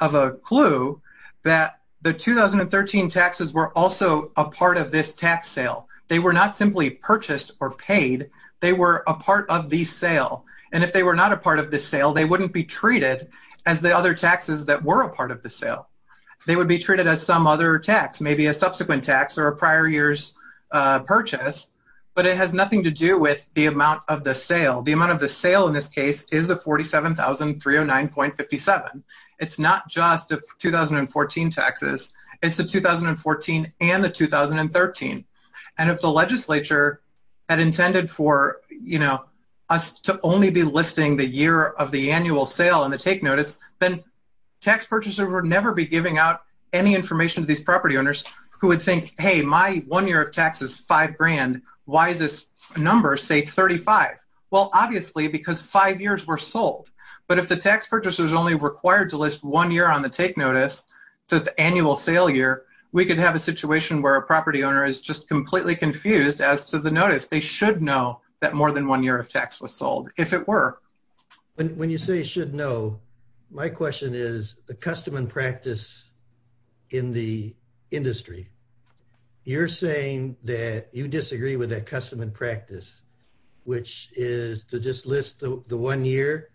of a clue that the 2013 taxes were also a part of this tax sale. They were not simply purchased or paid. They were a part of the sale. If they were not a part of the sale, they wouldn't be treated as the other taxes that were a part of the sale. They would be treated as some other tax, maybe a subsequent tax or a prior year's purchase, but it has nothing to do with the amount of the sale. The amount of the sale in this case is the $47,309.57. It's not just the 2014 taxes. It's the 2014 and the 2013. If the legislature had intended for us to only be listing the year of the annual sale on the take notice, then tax purchasers would never be giving out any information to these property owners who would think, hey, my one year of tax is $5,000. Why does this number say $35,000? Well, obviously, because five years were sold. But if the tax purchaser is only required to list one year on the take notice to the annual sale year, we could have a situation where a property owner is just completely confused as to the notice. They should know that more than one year of tax was sold, if it were. When you say should know, my question is the custom and practice in the industry. You're saying that you disagree with that custom and practice, which is to just list the one year?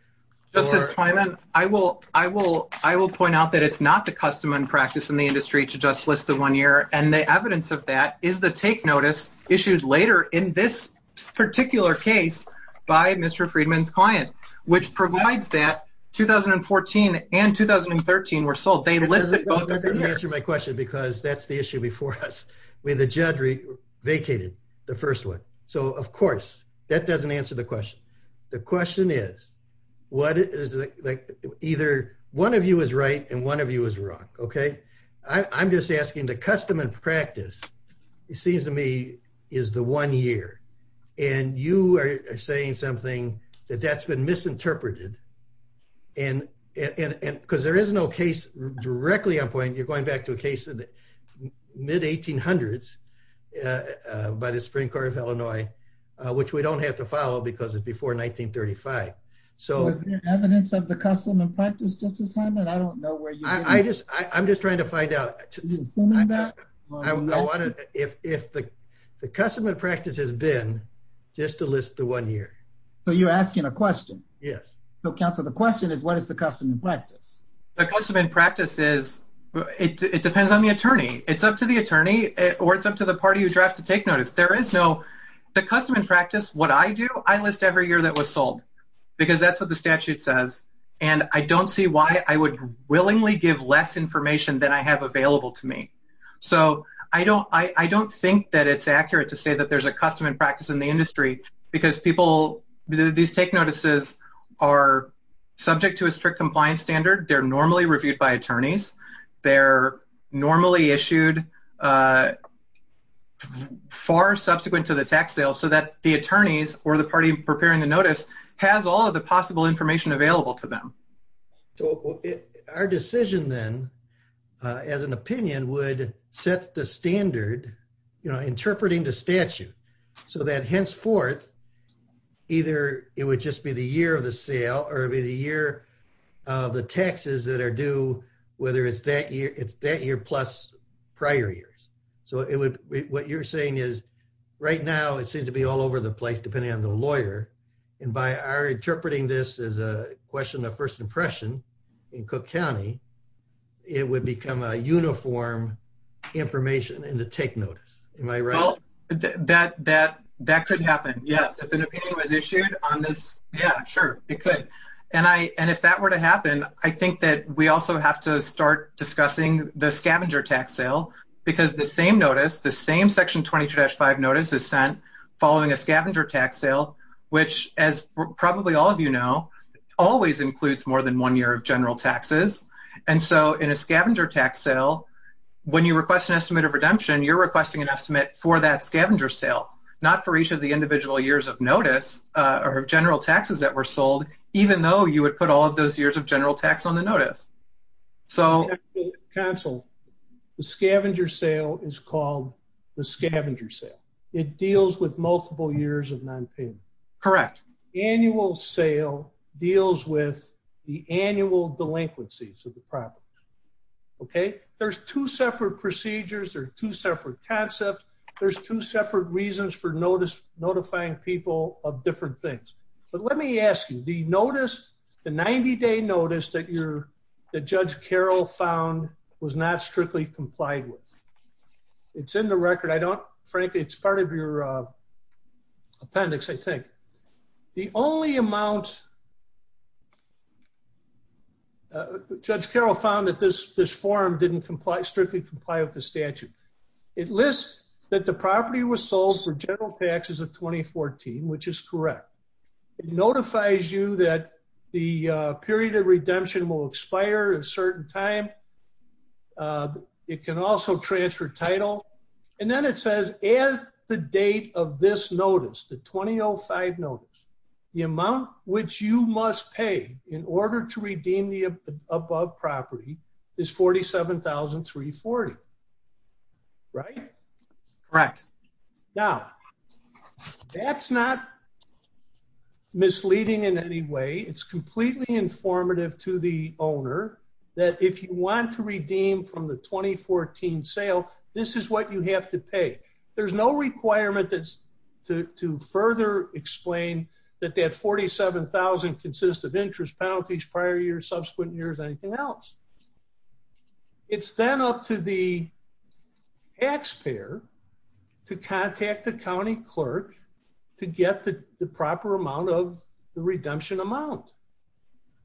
Justice Freedman, I will point out that it's not the custom and practice in the industry to just list the one year, and the evidence of that is the take notice issues later in this particular case by Mr. Freedman's client, which provides that the judge vacated the first one. So, of course, that doesn't answer the question. The question is, one of you is right and one of you is wrong. I'm just asking the custom and practice, it seems to me, is the one year. And you are saying something that that's been misinterpreted. And because there is no case directly on point, you're going back to a case of the mid-1800s by the Supreme Court of Illinois, which we don't have to follow because it's before 1935. So is there evidence of the custom and practice at this time? I don't know where you are. I'm just trying to find out. If the custom and practice has been just to list the one year. So you're asking a question. Yes. So, counsel, the question is, what is the custom and practice? The custom and practice is, it depends on the attorney. It's up to the attorney or it's up to the party who drives to take notice. The custom and practice, what I do, I list every year that was sold because that's what the statute says. And I don't see why I would willingly give less information than I have available to me. So I don't think that it's custom and practice in the industry because these take notices are subject to a strict compliance standard. They're normally reviewed by attorneys. They're normally issued far subsequent to the tax sale so that the attorneys or the party preparing the notice has all of the possible information available to them. So our decision then as an opinion would set the standard interpreting the statute so that henceforth, either it would just be the year of the sale or the year of the taxes that are due, whether it's that year plus prior years. So what you're saying is right now, it seems to be all over the place depending on the lawyer. And by our interpreting this as a question of first impression in Cook County, it would become a uniform information in the take notice. Am I right? Well, that could happen. Yes. If an opinion was issued on this, yeah, sure, it could. And if that were to happen, I think that we also have to start discussing the scavenger tax sale because the same notice, the same section 22-5 notice is sent following a all of you know, always includes more than one year of general taxes. And so in a scavenger tax sale, when you request an estimate of redemption, you're requesting an estimate for that scavenger sale, not for each of the individual years of notice or general taxes that were sold, even though you would put all of those years of general tax on the notice. So counsel, the scavenger sale is called the scavenger sale. It deals with multiple years of nonpayment. Correct. Annual sale deals with the annual delinquencies of the property. Okay. There's two separate procedures or two separate concepts. There's two separate reasons for notice, notifying people of different things. But let me ask you, the notice, the 90 day notice that you're, that Judge Carroll found was not strictly complied with. It's in the record. I don't, frankly, it's part of your appendix, I think. The only amount Judge Carroll found that this form didn't comply, strictly comply with the statute. It lists that the property was sold for general taxes of 2014, which is correct. It notifies you that the period of redemption will expire at a certain time. Okay. It can also transfer title. And then it says, as the date of this notice, the 2005 notice, the amount which you must pay in order to redeem the above property is $47,340. Right? Correct. Now, that's not misleading in any way. It's completely informative to the owner that if you want to redeem from the 2014 sale, this is what you have to pay. There's no requirement to further explain that that $47,000 consists of interest, penalties, prior years, subsequent years, anything else. It's then up to the taxpayer to contact the county clerk to get the proper amount of the redemption amount.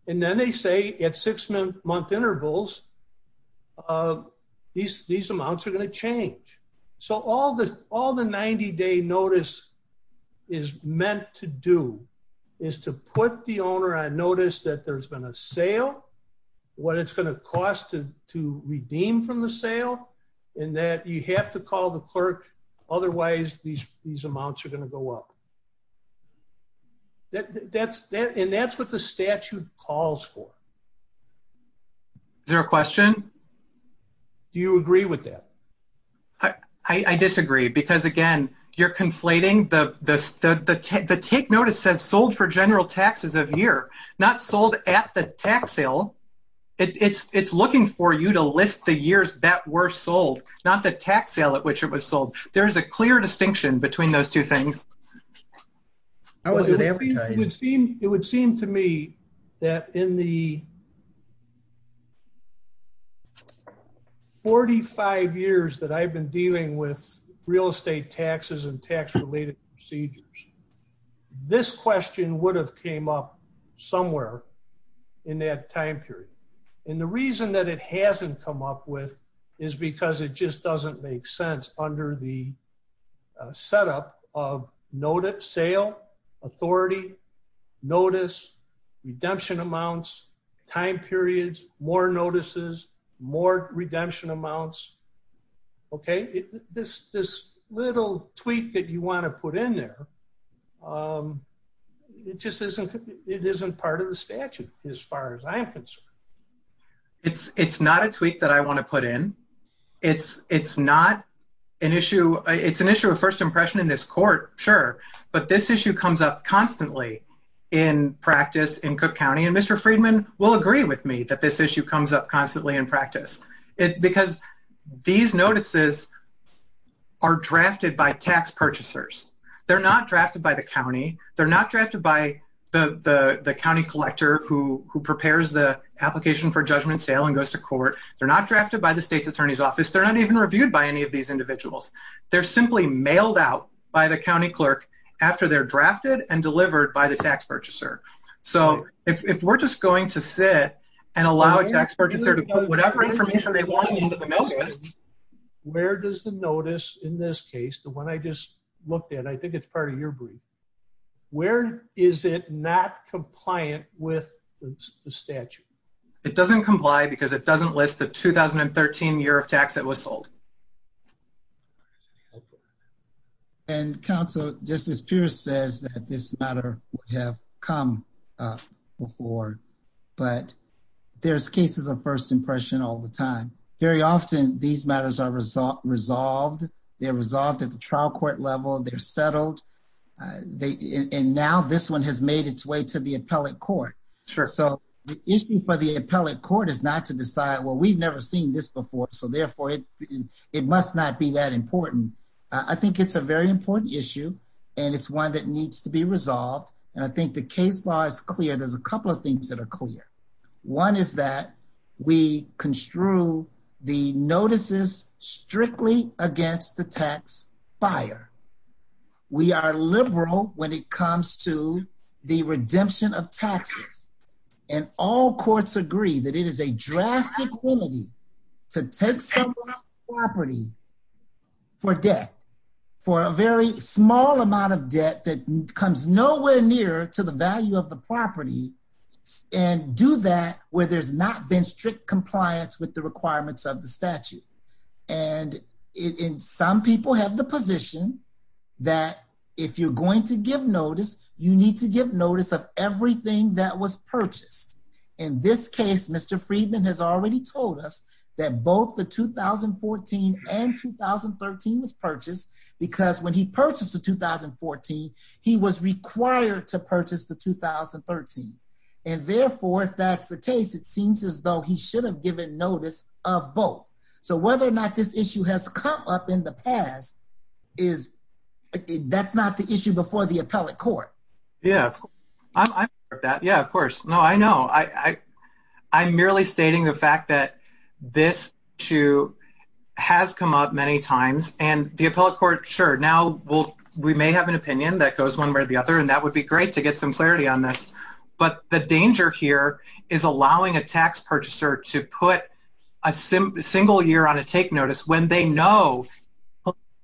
And then they say at six-month intervals, these amounts are going to change. So, all the 90-day notice is meant to do is to put the owner on notice that there's been a sale, what it's going to cost to redeem from the sale, and that you have to call the clerk. Otherwise, these amounts are going to go up. And that's what the statute calls for. Is there a question? Do you agree with that? I disagree. Because again, you're conflating the take notice that's sold for general taxes of year, not sold at the tax sale. It's looking for you to list the years that were sold, not the tax sale at which it was sold. There's a clear distinction between those two things. It would seem to me that in the 45 years that I've been dealing with real estate taxes and tax-related procedures, this question would have came up somewhere in that time period. And the reason that it hasn't come up with is because it just doesn't make sense under the setup of notice, sale, authority, notice, redemption amounts, time periods, more notices, more redemption amounts. Okay? This little tweak that you want to put in there, it isn't part of the statute as far as I'm concerned. It's not a tweak that I want to put in. It's an issue of first impression in this court, sure. But this issue comes up constantly in practice in Cook County. And Mr. Friedman will agree with me that this issue comes up constantly in practice. It's because these notices are drafted by tax purchasers. They're not drafted by the county. They're not drafted by the county collector who prepares the application for judgment sale and goes to court. They're not drafted by the state's attorney's office. They're not even reviewed by any of these individuals. They're simply mailed out by the county clerk after they're drafted and to sit and allow a tax purchaser to put whatever information they want into the notice. Where does the notice in this case, the one I just looked at, I think it's part of your brief, where is it not compliant with the statute? It doesn't comply because it doesn't list the 2013 year of tax that was sold. And counsel, Justice Pierce says that this matter would have come before. But there's cases of first impression all the time. Very often, these matters are resolved. They're resolved at the trial court level. They're settled. And now this one has made its way to the appellate court. So the issue for the appellate court is not to decide, well, we've never seen this before, so therefore it must not be that important. I think it's a very important issue, and it's one that needs to be resolved. And I think the case law is clear. There's a couple of things that are clear. One is that we construe the notices strictly against the tax buyer. We are liberal when it comes to the value of the property. And we do that where there's not been strict compliance with the requirements of the statute. And some people have the position that if you're going to give notice, you need to give notice of everything that was purchased. In this case, Mr. Friedman has already told us that both the 2014 and 2013 was purchased because when he purchased the 2014, he was required to purchase the 2013. And therefore, it seems as though he should have given notice of both. So whether or not this issue has come up in the past, that's not the issue before the appellate court. Yeah. I'm aware of that. Yeah, of course. No, I know. I'm merely stating the fact that this issue has come up many times. And the appellate court, sure, now we may have an opinion that goes one way or the other, and that would be great to get some clarity on this. But the danger here is allowing a tax purchaser to put a single year on a take notice when they know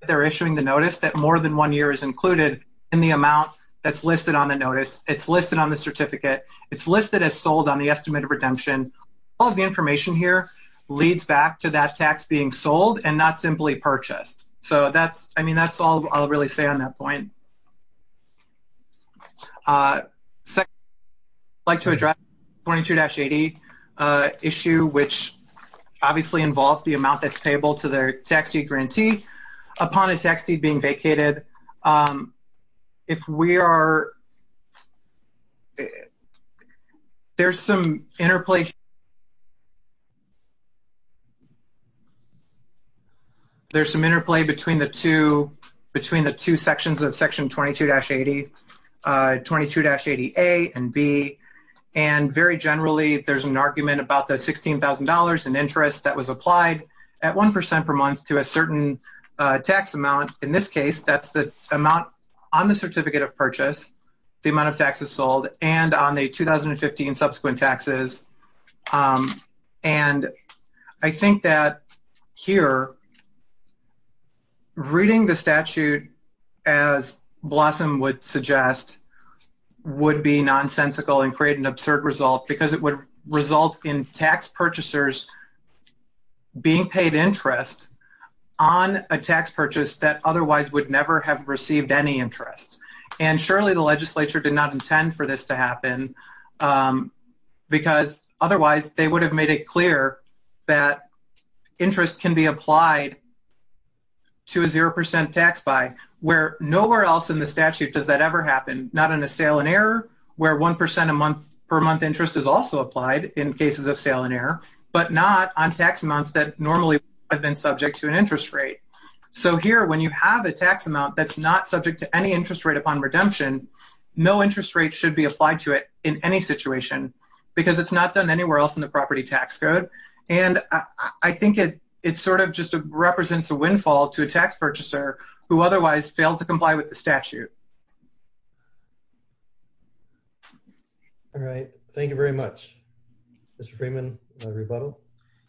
they're issuing the notice that more than one year is included in the amount that's listed on the notice. It's listed on the certificate. It's listed as sold on the estimate of redemption. All of the information here leads back to that tax being sold and not simply purchased. So that's all I'll really say on that point. I'd like to address the 22-80 issue, which obviously involves the amount that's payable to their tax deed grantee upon a tax deed being vacated. There's some interplay between the two sections of section 22-80, 22-80A and B, and very generally there's an argument about the $16,000 in interest that was applied at 1% per month to a certain tax amount. In this case, that's the amount on the certificate of purchase, the amount of taxes sold, and on the 2015 subsequent taxes. And I think that here, reading the statute as Blossom would suggest would be nonsensical and create an absurd result because it would result in tax purchasers being paid interest on a tax purchase that otherwise would never have received any interest. And surely the legislature did not intend for this to happen because otherwise they would have made it clear that interest can be applied to a 0% tax buy, where nowhere else in the statute does that ever happen, not in a sale and error where 1% per month interest is also applied in cases of sale and error, but not on tax amounts that normally have been subject to an interest rate. So here, when you have a tax amount that's not subject to any interest rate upon redemption, no interest rate should be applied to it in any situation because it's not done anywhere else in the property tax code. And I think it sort of just represents a windfall to a tax purchaser who otherwise failed to comply with the statute. All right. Thank you very much. Mr. Freeman, a rebuttal?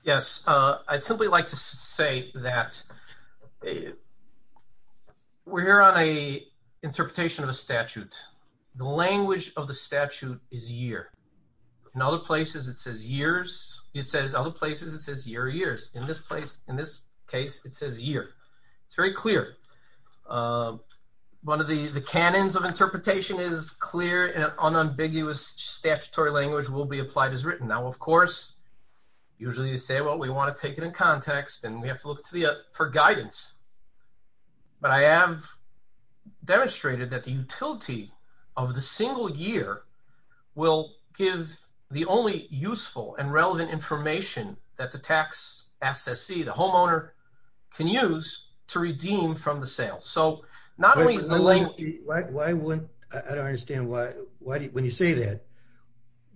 Yes. I'd simply like to say that we're here on a interpretation of a statute. The language of the statute is year. In other places it says years. It says other places it says year years. In this place, in this case, it says year. It's very clear. One of the canons of interpretation is clear and unambiguous statutory language will be applied as written. Now, of course, usually you say, well, we want to take it in context and we have to look for guidance. But I have demonstrated that the utility of the single year will give the only useful and relevant information that the tax SSC, the homeowner, can use to redeem from the sale. But I don't understand why, when you say that,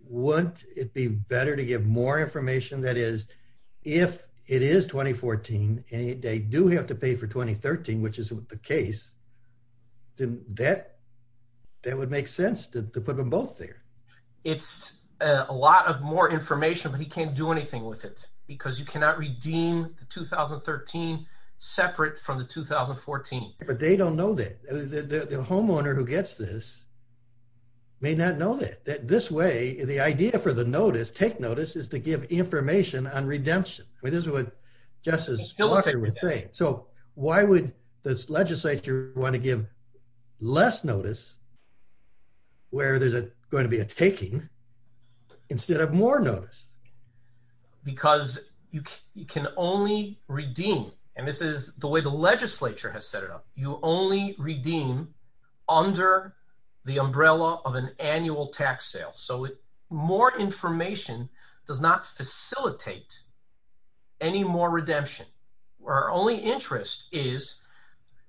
wouldn't it be better to give more information that is if it is 2014 and they do have to pay for 2013, which isn't the case, then that would make sense to put them both there. It's a lot of more information, but he can't do anything with it because you cannot redeem the 2013 separate from the 2014. They don't know that. The homeowner who gets this may not know that. This way, the idea for the notice, take notice, is to give information on redemption. This is what Justice Walker would say. Why would this legislature want to give less notice where there's going to be a taking instead of more notice? Because you can only redeem, and this is the way the legislature has set it up. You only redeem under the umbrella of an annual tax sale. So more information does not facilitate any more redemption. Our only interest is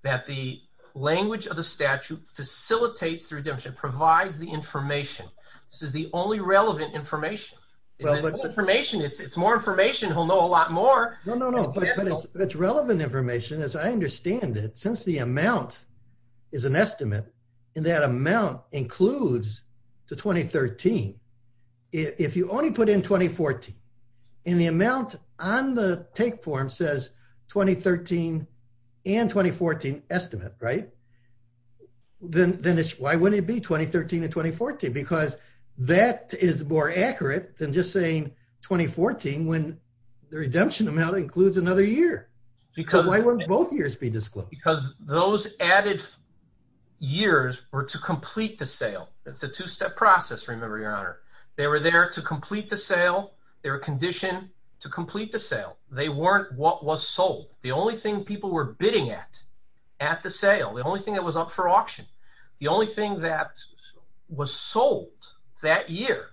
that the language of the statute facilitates redemption, provides the information. This is the only relevant information. It's more information. He'll know a lot more. No, no, no. But it's relevant information, as I understand it. Since the amount is an estimate, and that amount includes the 2013, if you only put in 2014, and the amount on the take form says 2013 and 2014 estimate, right, then why wouldn't it be 2013 and 2014? Because that is more accurate than just saying 2014 when the redemption amount includes another year. Because why would both years be disclosed? Because those added years were to complete the sale. It's a two-step process, remember, Your Honor. They were there to complete the sale. They were conditioned to complete the sale. They weren't what was sold. The only thing people were bidding at, at the sale, the only thing that was up for auction, the only thing that was sold that year,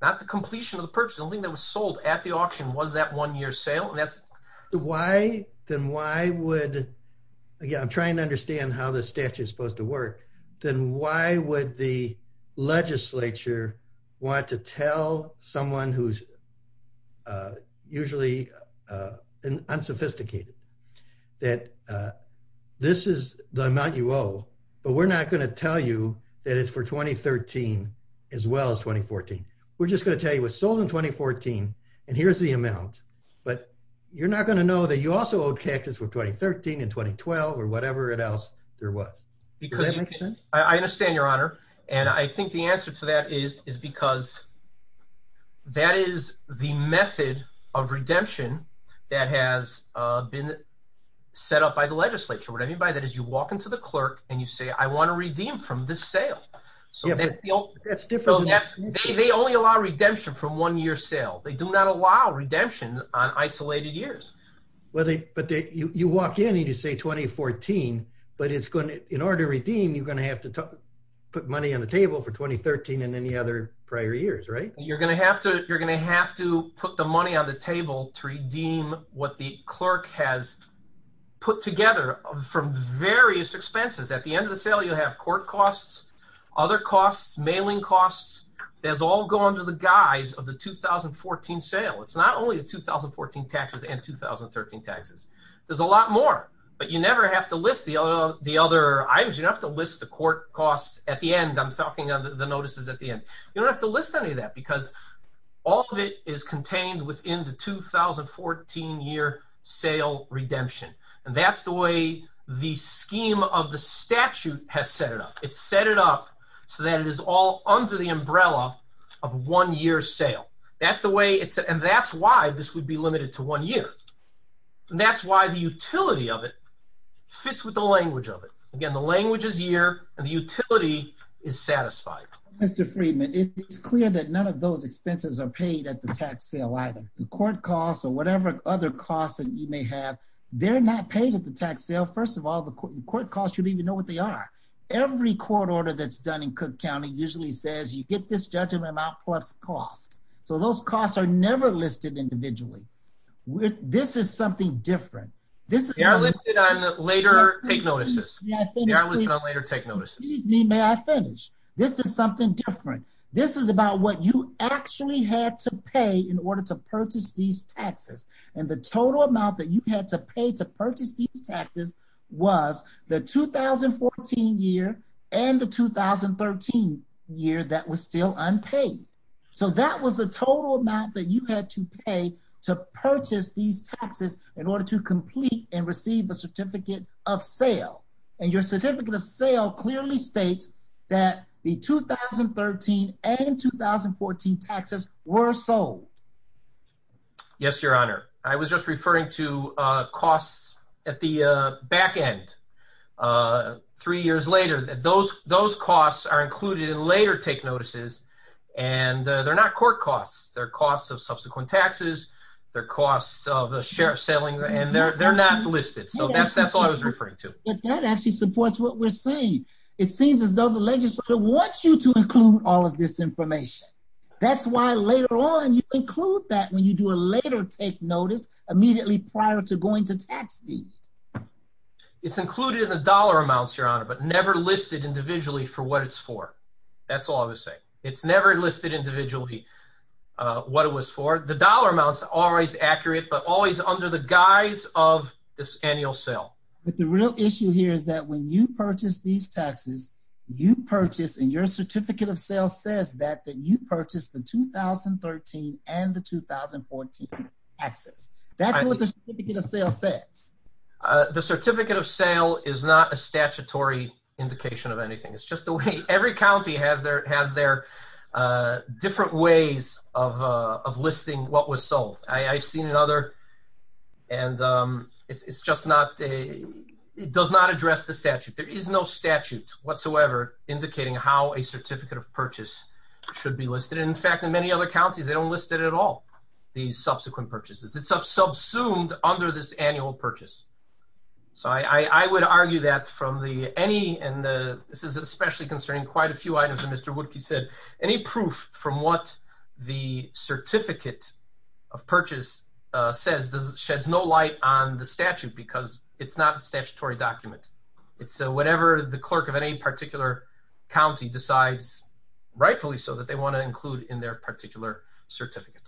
not the completion of the purchase, the only thing that was sold at the auction was that one-year sale. Why, then why would, again, I'm trying to understand how the statute is supposed to work, then why would the legislature want to tell someone who's usually unsophisticated that this is the amount you owe, but we're not going to tell you that it's for 2013 as well as 2014. We're just going to tell you it was sold in 2014, and here's the amount. But you're not going to know that you also owed cash for 2013 and 2012 or whatever else there was. I understand, Your Honor, and I think the answer to that is because that is the method of redemption that has been set up by the legislature. What I mean by that is you walk into the clerk and you say, I want a redeem from this sale. They only allow redemption from one-year sale. They do not allow redemption on isolated years. You walk in, you need to say 2014, but in order to redeem, you're going to have to put money on the table for 2013 and any other prior years, right? You're going to have to put the money on the table to redeem what the clerk has put together from various expenses. At the end of the sale, you'll have court costs, other costs, mailing costs. Those all go under the guise of the 2014 sale. It's not only the 2014 taxes and 2013 taxes. There's a lot more, but you never have to list the other items. You don't have to list the court costs at the end. I'm talking about the notices at the end. You don't have to list any of that because all of it is contained within the 2014-year sale redemption, and that's the way the scheme of the statute has set it up. It's set it up so that it is all under the umbrella of one-year sale, and that's why this would be limited to one year, and that's why the utility of it fits with the language of it. Again, the language is year, and the utility is satisfied. Mr. Friedman, it's clear that none of those expenses are paid at the tax sale either. The court costs or whatever other costs that you may have, they're not paid at the court. First of all, the court costs, you need to know what they are. Every court order that's done in Cook County usually says you get this judgment amount plus cost, so those costs are never listed individually. This is something different. They are listed on later take notices. May I finish? This is something different. This is about what you actually had to pay in order to purchase these taxes was the 2014 year and the 2013 year that was still unpaid, so that was the total amount that you had to pay to purchase these taxes in order to complete and receive the certificate of sale, and your certificate of sale clearly states that the 2013 and 2014 taxes were sold. Yes, Your Honor. I was just referring to costs at the back end. Three years later, those costs are included in later take notices, and they're not court costs. They're costs of subsequent taxes. They're costs of the sheriff selling, and they're not listed, so that's what I was referring to. That actually supports what we're saying. It seems as though legislature wants you to include all of this information. That's why later on, you include that when you do a later take notice immediately prior to going to tax fees. It's included in the dollar amounts, Your Honor, but never listed individually for what it's for. That's all I was saying. It's never listed individually what it was for. The dollar amounts are always accurate, but always under the guise of this annual sale. But the real issue here is that when you purchase these taxes, you purchase, and your certificate of sale says that, that you purchased the 2013 and the 2014 taxes. That's what the certificate of sale says. The certificate of sale is not a statutory indication of anything. It's just the way every county has their different ways of listing what was sold. I've seen another, and it's just not, it does not address the statute. There is no statute whatsoever indicating how a certificate of purchase should be listed. In fact, in many other counties, they don't list it at all, the subsequent purchases. It's subsumed under this annual purchase. So I would argue that from any, and this is especially concerning quite a few items that Mr. Woodkey said, any proof from what the certificate of purchase says sheds no light on the statute because it's not a statutory document. It's whatever the clerk of any particular county decides, rightfully so, that they want to include in their particular certificate.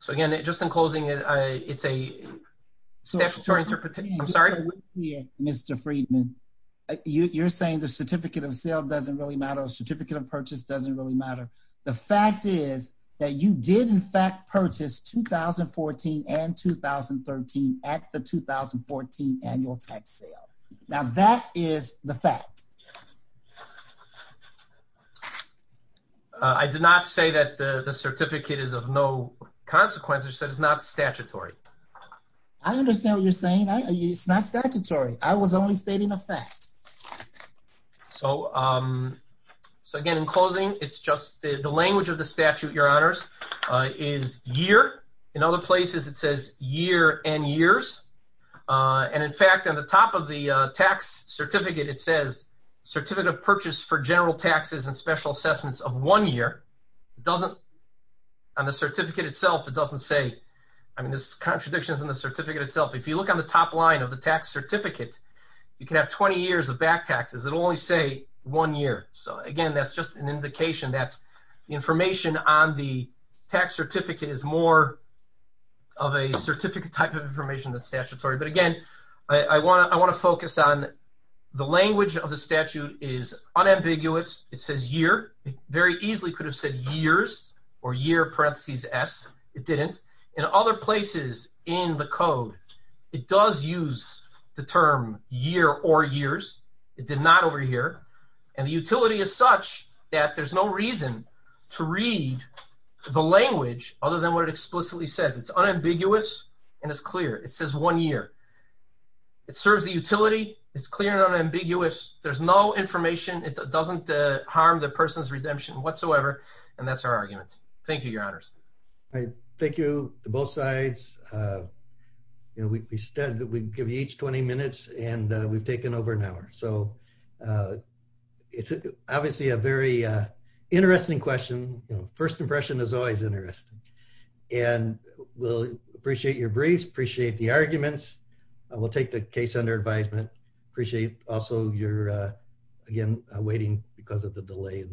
So again, just in closing, it's a statutory interpretation. I'm sorry. Mr. Freedman, you're saying the certificate of sale doesn't really matter, a certificate of purchase doesn't really matter. The fact is that you did in fact purchase 2014 and 2013 at the 2014 annual tax sale. Now that is the fact. I did not say that the certificate is of no consequence. I said it's not statutory. I understand what you're saying. It's not statutory. I was only stating a fact. So again, in closing, it's just the language of the statute, Your Honors, is year. In other places, it says year and years. And in fact, on the top of the tax certificate, it says certificate of purchase for general taxes and special assessments of one year. It doesn't, on the certificate itself, it doesn't say, I mean, this contradiction is in the certificate itself. If you look on the top line of the tax certificate, you can have 20 years of back taxes. It'll only say one year. So again, that's just an indication that the information on the tax certificate is more of a certificate type of information than statutory. But again, I want to focus on the language of the statute is unambiguous. It says year. It very easily could have said years or year parentheses S. It didn't. In other places in the code, it does use the term year or years. It did not over here. And the utility is such that there's no reason to read the language other than what it explicitly says. It's unambiguous and it's clear. It says one year. It serves the utility. It's clear and unambiguous. There's no information. It doesn't harm the person's redemption whatsoever. And that's our argument. Thank you, Your Honors. All right. Thank you to both sides. You know, we said that we'd give each 20 minutes and we've taken over an hour. So it's obviously a very interesting question. First impression is always interesting. And we'll appreciate your briefs, appreciate the arguments. We'll take the case under advisement. Appreciate also your, again, waiting because of the delay.